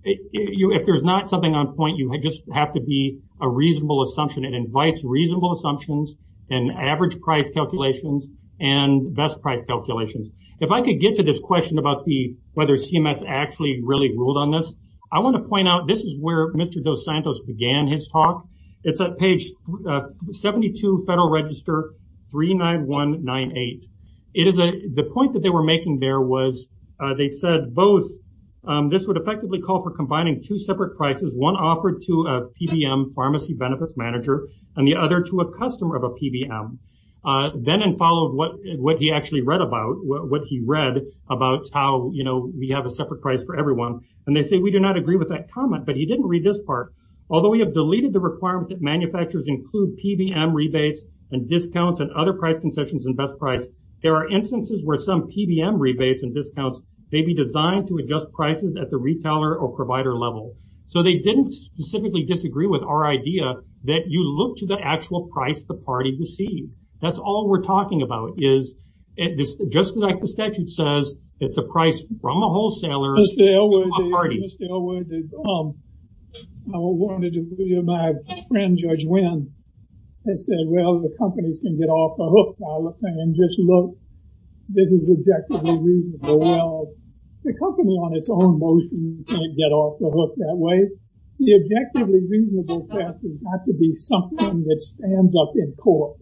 if there's not something on point, you might just have to be a reasonable assumption. It invites reasonable assumptions and average price calculations and best price calculations. If I could get to this question about the, whether CMS actually really ruled on this, I want to point out, this is where Mr. Dos Santos began his talk. It's at page 72, Federal Register 39198. It is the point that they were making there was, they said both, this would effectively call for combining two separate prices, one offered to a PBM, Pharmacy Benefits Manager, and the other to a customer of a PBM. Then in follow of what he actually read about, what he read about how, we have a separate price for everyone. And they say, we do not agree with that comment, but he didn't read this part. Although we have deleted the requirement that manufacturers include PBM rebates and discounts and other pricing sections and best price, there are instances where some PBM rebates and discounts, they'd be designed to adjust prices at the retailer or provider level. So they didn't specifically disagree with our idea that you look to the actual price the party received. That's all we're talking about is, just like the statute says, it's a price from a wholesaler. Mr. Elwood, I wanted to read my friend Judge Wynn, has said, well, the companies can get off the hook all the time. Just look, this is objectively reasonable. Well, the company on its own motion can't get off the hook that way. The objectively reasonable theft is not to be something that stands up in court.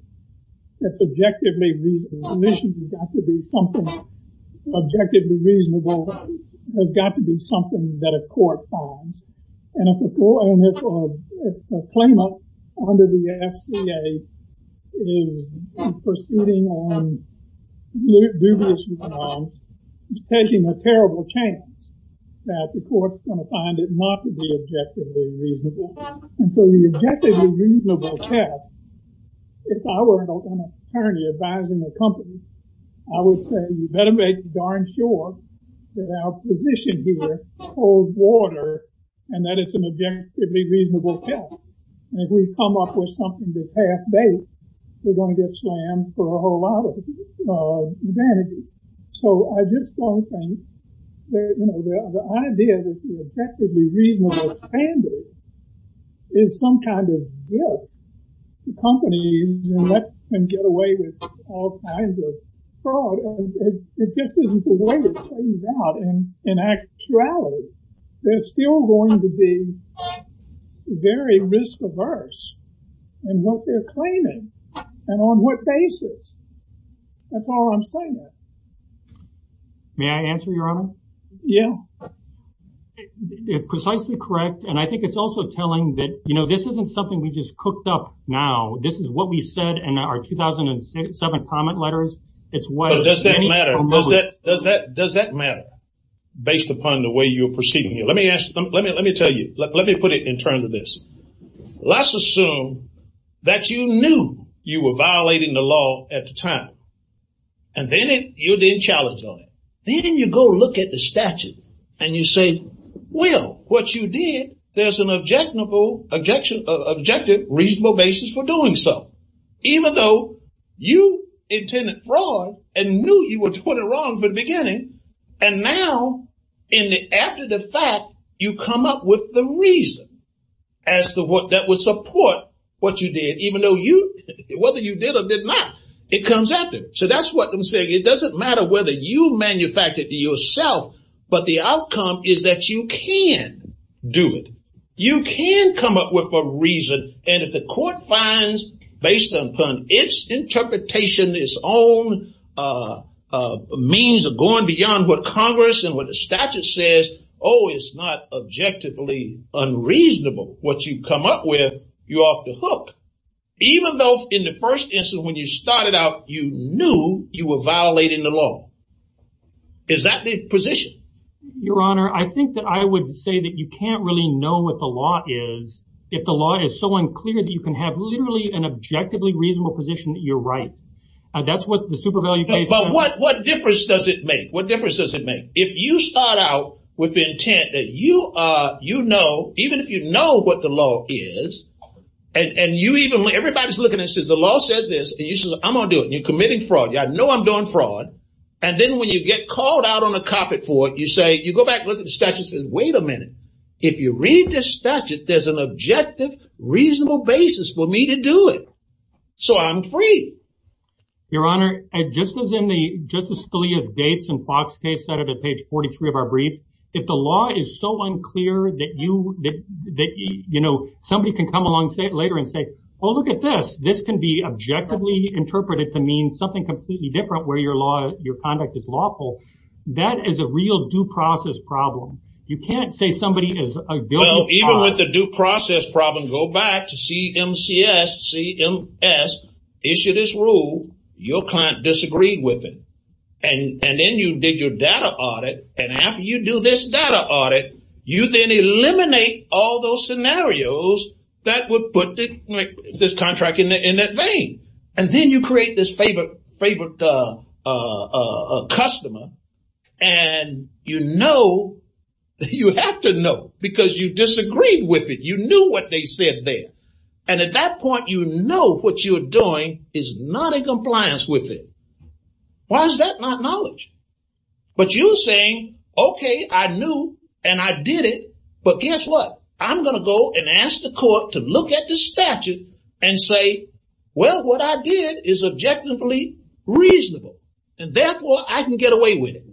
That's objectively reasonable. This has got to be something objectively reasonable has got to be something that a court finds. And if a claimant under the FDA is pursuing on dubious grounds, it's taking a terrible chance that the court's gonna find it not to be objectively reasonable. So the objectively reasonable theft, if I were apparently advising the company, I would say, you better make darn sure that our position here holds water and that it's an objectively reasonable theft. And if we come up with something that's half-baked, we're gonna get slammed for a whole lot of advantages. So I just don't think that, you know, the idea that the objectively reasonable standard is some kind of guilt. The company can get away with all kinds of fraud. It just isn't the way it turns out. In actuality, they're still going to be very misdiverse in what they're claiming and on what basis. That's all I'm saying. May I answer your honor? Yeah. And I think it's also telling that, you know, this isn't something we just cooked up now. This is what we said in our 2007 comment letters. It's what- But does that matter? Does that matter based upon the way you're proceeding? Let me ask, let me tell you, let me put it in terms of this. Let's assume that you knew you were violating the law at the time, and then you didn't challenge on it. Then you go look at the statute and you say, well, what you did, there's an objective, reasonable basis for doing so. Even though you intended fraud and knew you were doing it wrong from the beginning, and now after the fact, you come up with the reason as to what that would support what you did, even though you, whether you did or did not, it comes after. It doesn't matter whether you manufactured it yourself, but the outcome is that you can do it. You can come up with a reason, and if the court finds based upon its interpretation, its own means of going beyond what Congress and what the statute says, oh, it's not objectively unreasonable what you come up with, you're off the hook. Even though in the first instance, when you started out, you knew you were violating the law. Is that the position? Your Honor, I think that I would say that you can't really know what the law is if the law is so unclear that you can have literally an objectively reasonable position that you're right. That's what the super value case- But what difference does it make? What difference does it make? If you start out with the intent that you know, even if you know what the law is, and you even, everybody's looking at this, the law says this, and you say, I'm gonna do it. You're committing fraud. I know I'm doing fraud. And then when you get called out on the carpet for it, you say, you go back, look at the statute, and say, wait a minute. If you read this statute, there's an objective, reasonable basis for me to do it. So I'm free. Your Honor, just as in the Justice Scalia's Gates and Fox case cited at page 43 of our brief, if the law is so unclear that you, that somebody can come along later and say, oh, look at this. This can be objectively interpreted to mean something completely different where your conduct is lawful. That is a real due process problem. You can't say somebody is a- Even with the due process problem, go back to CMCS, CMS, issue this rule. Your client disagreed with it. And then you did your data audit. And after you do this data audit, you then eliminate all those scenarios that would put this contract in that vein. And then you create this favorite customer. And you know, you have to know, because you disagreed with it. You knew what they said there. And at that point, you know what you're doing is not in compliance with it. Why is that not knowledge? But you're saying, okay, I knew and I did it. But guess what? I'm gonna go and ask the court to look at this statute and say, well, what I did is objectively reasonable. And therefore, I can get away with it.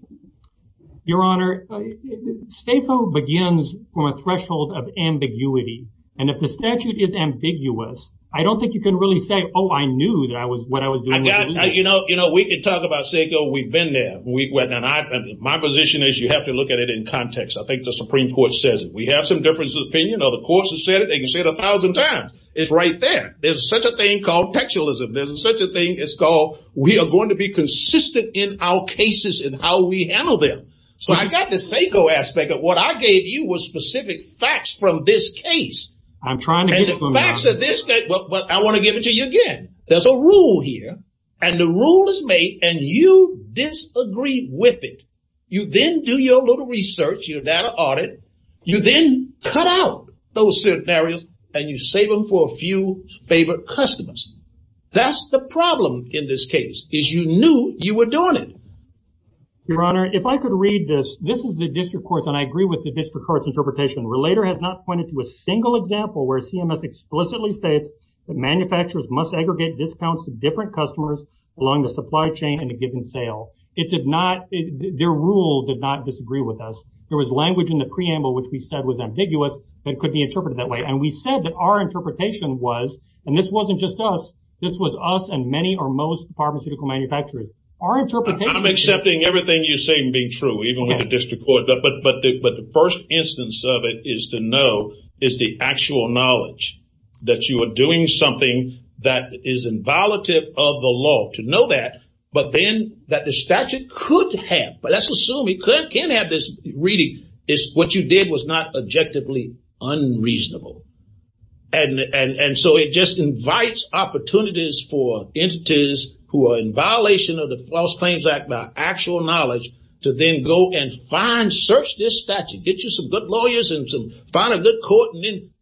Your Honor, STAPO begins from a threshold of ambiguity. And if the statute is ambiguous, I don't think you can really say, oh, I knew that was what I was doing. You know, we can talk about STAPO, we've been there. My position is you have to look at it in context. I think the Supreme Court says it. We have some differences of opinion. The courts have said it. They can say it a thousand times. It's right there. There's such a thing called textualism. There's such a thing, it's called, we are going to be consistent in our cases and how we handle them. So I got the STAPO aspect of what I gave you was specific facts from this case. I'm trying to get it from there. And the facts of this case, but I wanna give it to you again. There's a rule here. And the rule is made and you disagree with it. You then do your little research, your data audit. You then cut out those scenarios and you save them for a few favorite customers. That's the problem in this case is you knew you were doing it. Your Honor, if I could read this, this is the district court and I agree with the district court's interpretation. Relator has not pointed to a single example where CMS explicitly said that manufacturers must aggregate discounts to different customers along the supply chain in a given sale. It did not, their rule did not disagree with us. There was language in the preamble which we said was ambiguous that could be interpreted that way. And we said that our interpretation was, and this wasn't just us, this was us and many or most pharmaceutical manufacturers. Our interpretation- I'm accepting everything you're saying being true, even with the district court. But the first instance of it is to know is the actual knowledge that you are doing something that is inviolative of the law. To know that, but then that the statute could have, but let's assume it could have this reading is what you did was not objectively unreasonable. And so it just invites opportunities for entities who are in violation of the False Claims Act by actual knowledge to then go and find, search this statute, get you some good lawyers and find a good court.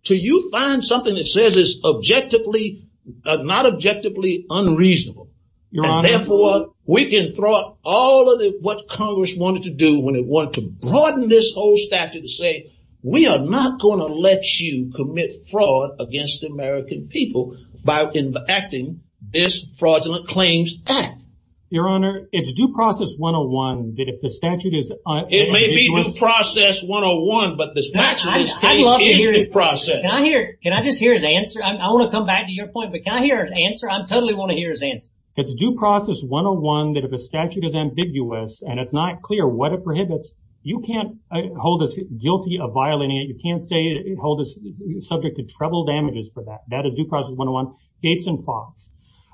So you find something that says it's objectively, not objectively unreasonable. Your honor- And therefore we can throw out all of it what Congress wanted to do when it wanted to broaden this whole statute to say, we are not gonna let you commit fraud against the American people by enacting this Fraudulent Claims Act. Your honor, it's due process 101 that if the statute is- It may be due process 101, but the statute- I'd love to hear the process. Can I hear, can I just hear the answer? I wanna come back to your point, but can I hear an answer? I totally wanna hear his answer. It's due process 101 that if the statute is ambiguous and it's not clear what it prohibits, you can't hold us guilty of violating it. You can't say, hold us subject to trouble damages for that. That is due process 101. Gates and Fox.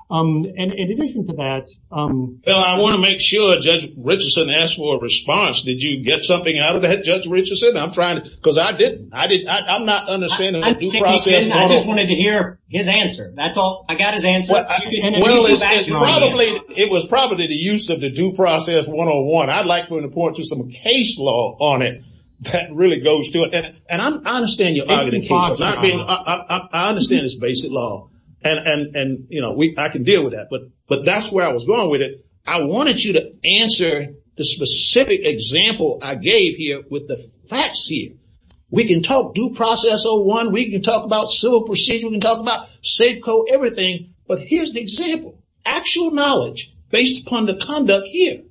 And in addition to that- Well, I wanna make sure Judge Richardson asked for a response. Did you get something out of that, Judge Richardson? I'm trying to, cause I didn't. I'm not understanding the due process 101. I just wanted to hear his answer. That's all, I got his answer. It was probably the use of the due process I'd like to report to some case law on it that really goes to it. And I understand your argument. I understand it's basic law and I can deal with that. But that's where I was going with it. I wanted you to answer the specific example I gave you with the facts here. We can talk due process 01. We can talk about civil proceeding. We can talk about safe code, everything. But here's the example. Actual knowledge based upon the conduct here.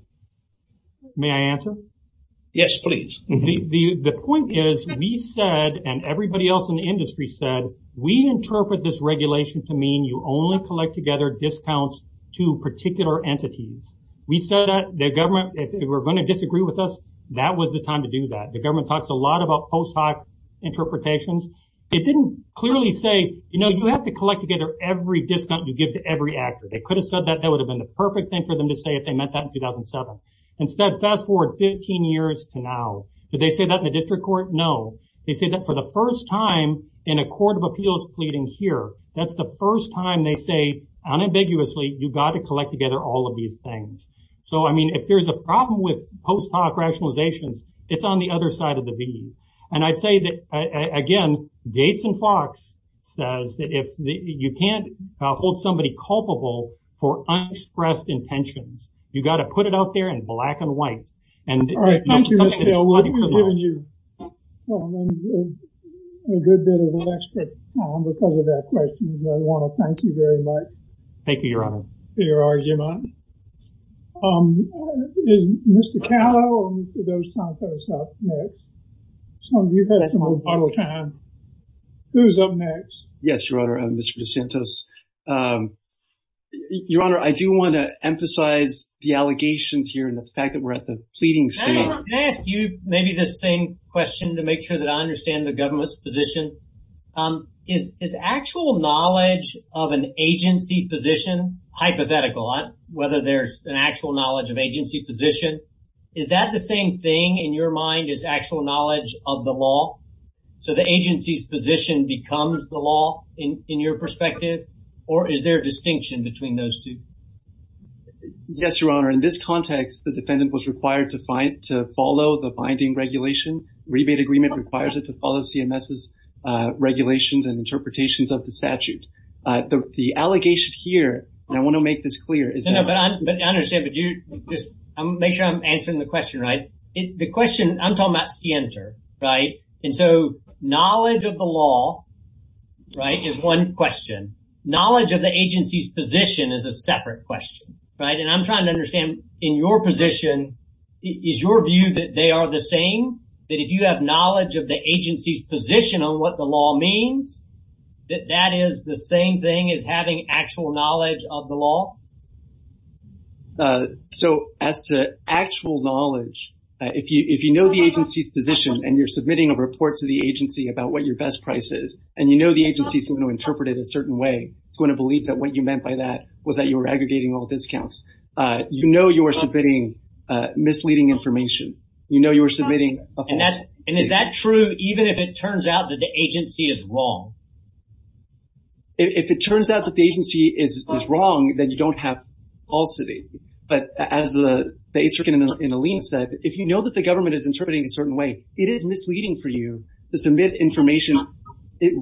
May I answer? Yes, please. The point is, we said, and everybody else in the industry said, we interpret this regulation to mean you only collect together discounts to particular entities. We said that the government, if they were gonna disagree with us, that was the time to do that. The government talks a lot about post hoc interpretations. It didn't clearly say, you have to collect together every discount you give to every actor. They could have said that, that would have been the perfect thing for them to say if they meant that in 2007. Instead, fast forward 15 years to now. Did they say that in the district court? No. They say that for the first time in a court of appeals pleading here, that's the first time they say unambiguously, you've got to collect together all of these things. So, I mean, if there's a problem with post hoc rationalization, it's on the other side of the beam. And I'd say that, again, Gates and Fox says that if you can't hold somebody culpable for unexpressed intentions, you got to put it out there in black and white. And- All right, thank you. We'll give you a good bit of an extra time because of that question. I want to thank you very much. Thank you, your honor. Here you are, Jim Otton. Is Mr. Cato or Mr. Dos Santos up next? Some of you had some other time. Who's up next? Yes, your honor, I'm Mr. Dos Santos. Your honor, I do want to emphasize the allegations here and the fact that we're at the pleading stage. May I ask you maybe the same question to make sure that I understand the government's position. Is actual knowledge of an agency position hypothetical? Whether there's an actual knowledge of agency position. Is that the same thing in your mind is actual knowledge of the law? So the agency's position becomes the law in your perspective, or is there a distinction between those two? Yes, your honor. In this context, the defendant was required to follow the binding regulation. Rebate agreement requires it to follow CMS's regulations and interpretations of the statute. The allegation here, and I want to make this clear, is that- No, no, but I understand, but just make sure I'm answering the question, right? The question, I'm talking about the answer, right? Knowledge of the law, right, is one question. Knowledge of the agency's position is a separate question, right? And I'm trying to understand, in your position, is your view that they are the same? That if you have knowledge of the agency's position on what the law means, that that is the same thing as having actual knowledge of the law? So as to actual knowledge, if you know the agency's position and you're submitting a report to the agency about what your best price is, and you know the agency's going to interpret it a certain way, it's going to believe that what you meant by that was that you were aggregating all discounts. You know you are submitting misleading information. You know you are submitting a false- And is that true even if it turns out that the agency is wrong? If it turns out that the agency is wrong, then you don't have false evidence. But as the agent in the lien said, if you know that the government is interpreting it a certain way, it is misleading for you to submit information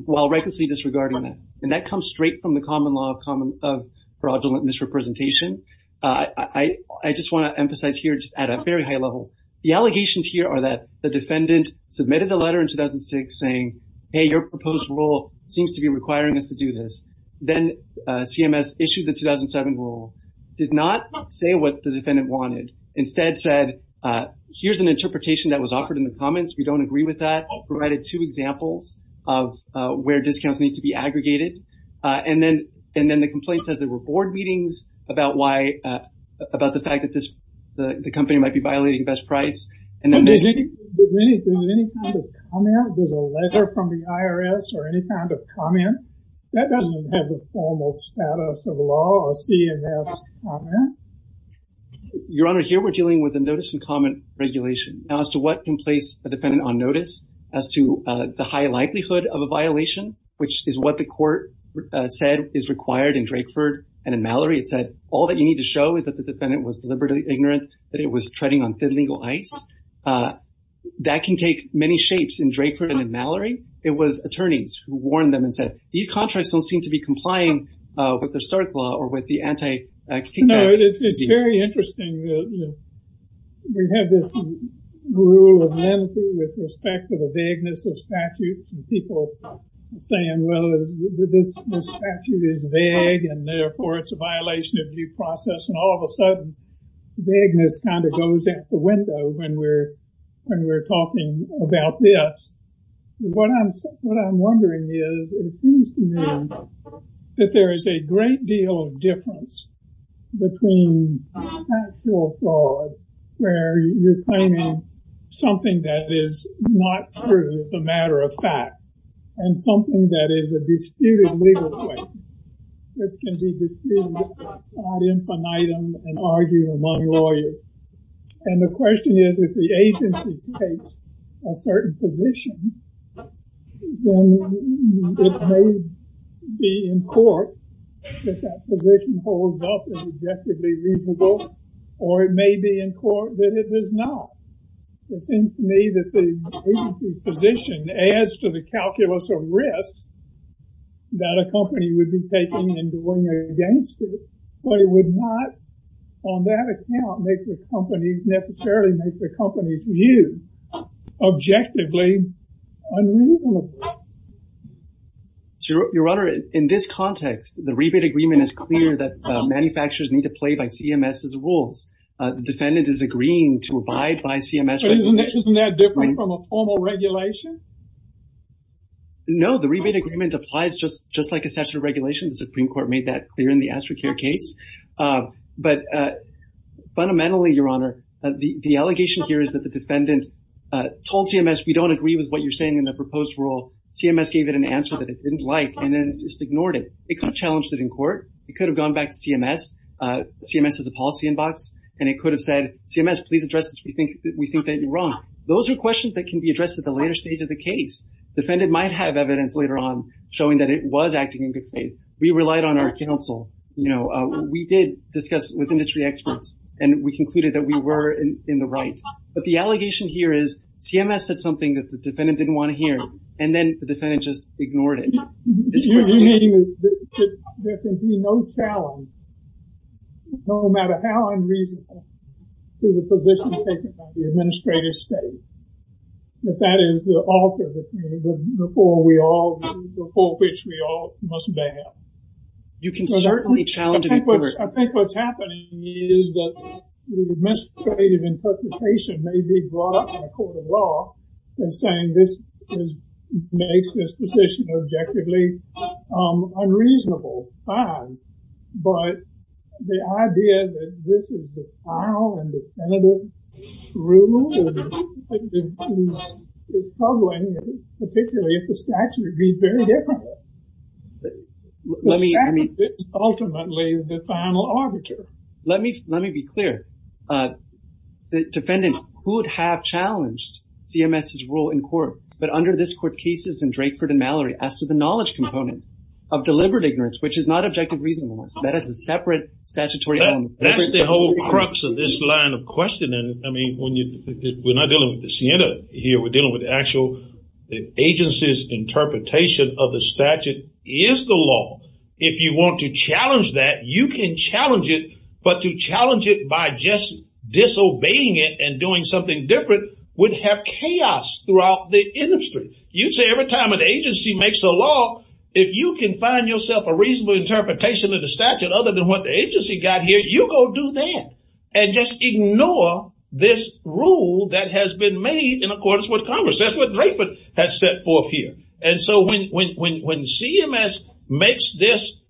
while recklessly disregarding it. And that comes straight from the common law of fraudulent misrepresentation. I just want to emphasize here at a very high level, the allegations here are that the defendant submitted the letter in 2006 saying, hey, your proposed rule seems to be requiring us to do this. Then CMS issued the 2007 rule, did not say what the defendant wanted. Instead said, here's an interpretation that was offered in the comments. We don't agree with that. Provided two examples of where discounts need to be aggregated. And then the complaint says there were board meetings about why, about the fact that the company might be violating best price. And then- Is there any kind of comment? There's a letter from the IRS or any kind of comment? That doesn't have a formal status of law or CMS comment. Your Honor, here we're dealing with a notice and comment regulation. Now as to what can place a defendant on notice as to the high likelihood of a violation, which is what the court said is required in Drakeford and in Mallory. It said, all that you need to show is that the defendant was deliberately ignorant that it was treading on illegal ice. That can take many shapes in Drakeford and in Mallory. It was attorneys who warned them and said, these contracts don't seem to be complying with the Starks law or with the anti-extinction- No, it's very interesting. You know, we have this rule of manatee with respect to the vagueness of statutes and people saying, well, this statute is vague and therefore it's a violation of due process. And all of a sudden, vagueness kind of goes out the window when we're talking about this. What I'm wondering is, it seems to me that there is a great deal of difference between factual fraud, where you're claiming something that is not true as a matter of fact and something that is a disputed legal claim that can be disputed, brought in for an item and argued among lawyers. And the question is, if the agency takes a certain position, then it may be in court if that position holds up as objectively reasonable, or it may be in court that it does not. It seems to me that the agency's position adds to the calculus of risk that a company would be taking and doing against it, but it would not, on that account, necessarily make the company's view objectively unreasonable. Your Honor, in this context, the rebate agreement is clear that manufacturers need to play by CMS's rules. The defendant is agreeing to abide by CMS's rules. Isn't that different from a formal regulation? No, the rebate agreement applies just like a statute of regulations. The Supreme Court made that clear in the As for Care case. But fundamentally, Your Honor, the allegation here is that the defendant told CMS, we don't agree with what you're saying in the proposed rule. CMS gave it an answer that it didn't like, and then just ignored it. It could have challenged it in court. It could have gone back to CMS, CMS has a policy inbox, and it could have said, CMS, please address this, we think that you're wrong. Those are questions that can be addressed at the later stage of the case. Defendant might have evidence later on showing that it was acting in good faith. We relied on our counsel. We did discuss with industry experts, and we concluded that we were in the right. But the allegation here is CMS said something that the defendant didn't want to hear, and then the defendant just ignored it. There can be no challenge, no matter how unreasonable, to the position taken by the administrative state. If that is the ultimate opinion, the form we all, the full pitch we all must bear. You can certainly challenge the court. I think what's happening is that the administrative interpretation may be brought up in a court of law as saying this makes this position objectively unreasonable, fine. But the idea that this is the final and definitive ruling is troubling, particularly if it's actually being very difficult. Ultimately, the final argument. Let me be clear. The defendant could have challenged CMS's role in court, but under this court cases in Drakeford and Mallory, as to the knowledge component of deliberate ignorance, which is not objective reasonableness. That is a separate statutory element. That's the whole crux of this line of questioning. I mean, we're not dealing with the SINEDA here. We're dealing with the actual, the agency's interpretation of the statute is the law. If you want to challenge that, you can challenge it, but to challenge it by just disobeying it and doing something different would have chaos throughout the industry. You'd say every time an agency makes a law, if you can find yourself a reasonable interpretation of the statute other than what the agency got here, you go do that and just ignore this rule that has been made in accordance with Congress. That's what Drakeford has set forth here. And so when CMS makes this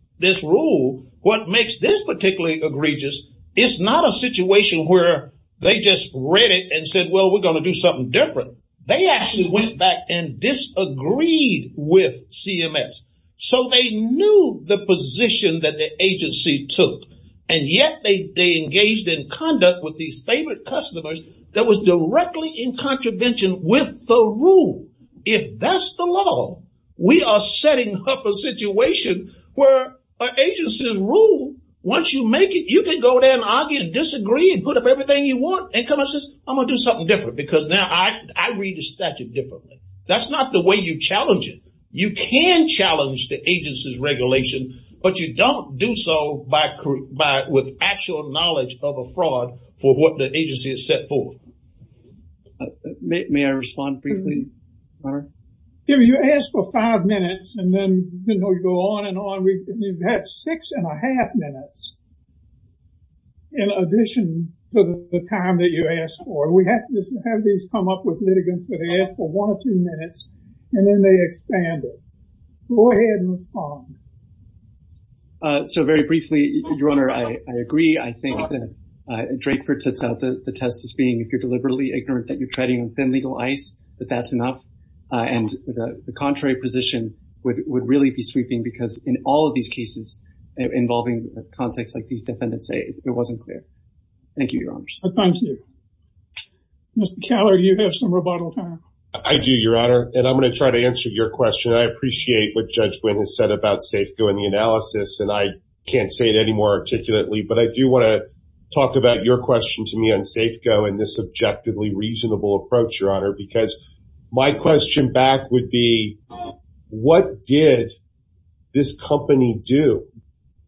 rule, what makes this particularly egregious is not a situation where they just read it and said, well, we're gonna do something different. They actually went back and disagreed with CMS. So they knew the position that the agency took, and yet they engaged in conduct with these favorite customers that was directly in contravention with the rule. If that's the law, we are setting up a situation where an agency rule, once you make it, you can go there and argue and disagree and put up everything you want, and come out and say, I'm gonna do something different because now I read the statute differently. That's not the way you challenge it. You can challenge the agency's regulation, but you don't do so with actual knowledge of a fraud for what the agency has set forth. May I respond briefly, Mark? If you ask for five minutes and then you go on and on, we've had six and a half minutes in addition to the time that you asked for. We have to have these come up with litigants for one or two minutes, and then they expand it. Go ahead and respond. So very briefly, Your Honor, I agree. I think that Drakeford sets out the test as being if you're deliberately ignorant that you're treading in thin legal ice, that that's enough. And the contrary position would really be sweeping because in all of these cases involving a context like these defendants say, it wasn't clear. Thank you, Your Honor. Thank you. Mr. Keller, you have some rebuttal time. I do, Your Honor. And I'm gonna try to answer your question. I appreciate what Judge Wynn has said about Safeco and the analysis, and I can't say it any more articulately, but I do wanna talk about your question to me on Safeco and this objectively reasonable approach, Your Honor, because my question back would be, what did this company do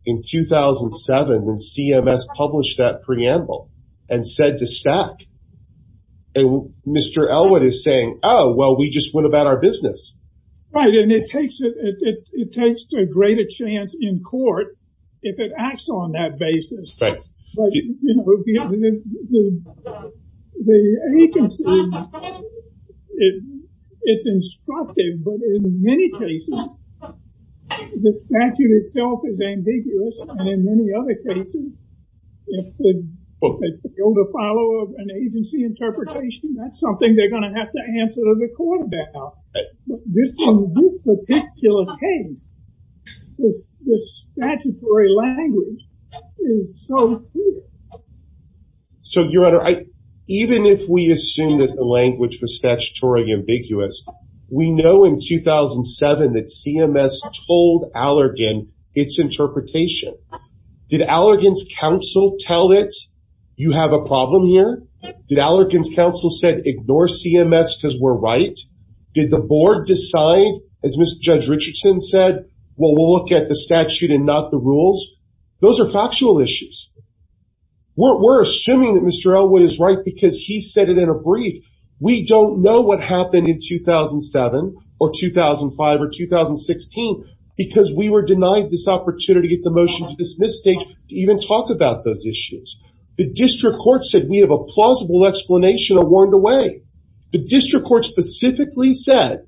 in 2007 when CMS published that preamble? And said the stat, and Mr. Elwood is saying, oh, well, we just went about our business. Right, and it takes a greater chance in court if it acts on that basis. Right. But, you know, the agency, it's instructive, but in many cases, the statute itself is ambiguous and in many other cases, it's the- Well, the follow-up and agency interpretation, that's something they're gonna have to answer to the court about. This particular case, the statutory language is so clear. So, Your Honor, even if we assume that the language was statutorily ambiguous, we know in 2007 that CMS told Allergan its interpretation. Did Allergan's counsel tell it, you have a problem here? Did Allergan's counsel said, ignore CMS because we're right? Did the board decide, as Judge Richardson said, well, we'll look at the statute and not the rules? Those are factual issues. We're assuming that Mr. Elwood is right because he said it in a brief. We don't know what happened in 2007 or 2005 or 2016 because we were denied this opportunity to get the motion to dismiss state to even talk about those issues. The district court said, we have a plausible explanation or warned away. The district court specifically said,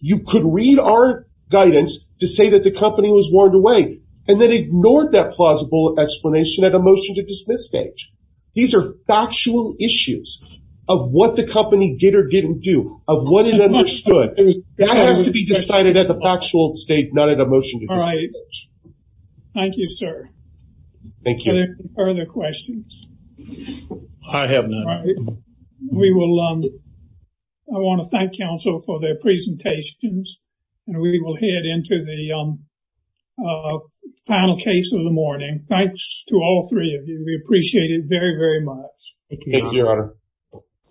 you could read our guidance to say that the company was warned away and then ignored that plausible explanation at a motion to dismiss stage. These are factual issues of what the company did or didn't do, of what it understood. That has to be decided as a factual state, not at a motion to dismiss stage. Thank you, sir. Thank you. Are there any further questions? I have none. We will, I want to thank counsel for their presentations and we will head into the final case of the morning. Thanks to all three of you. We appreciate it very, very much. Thank you, Your Honor.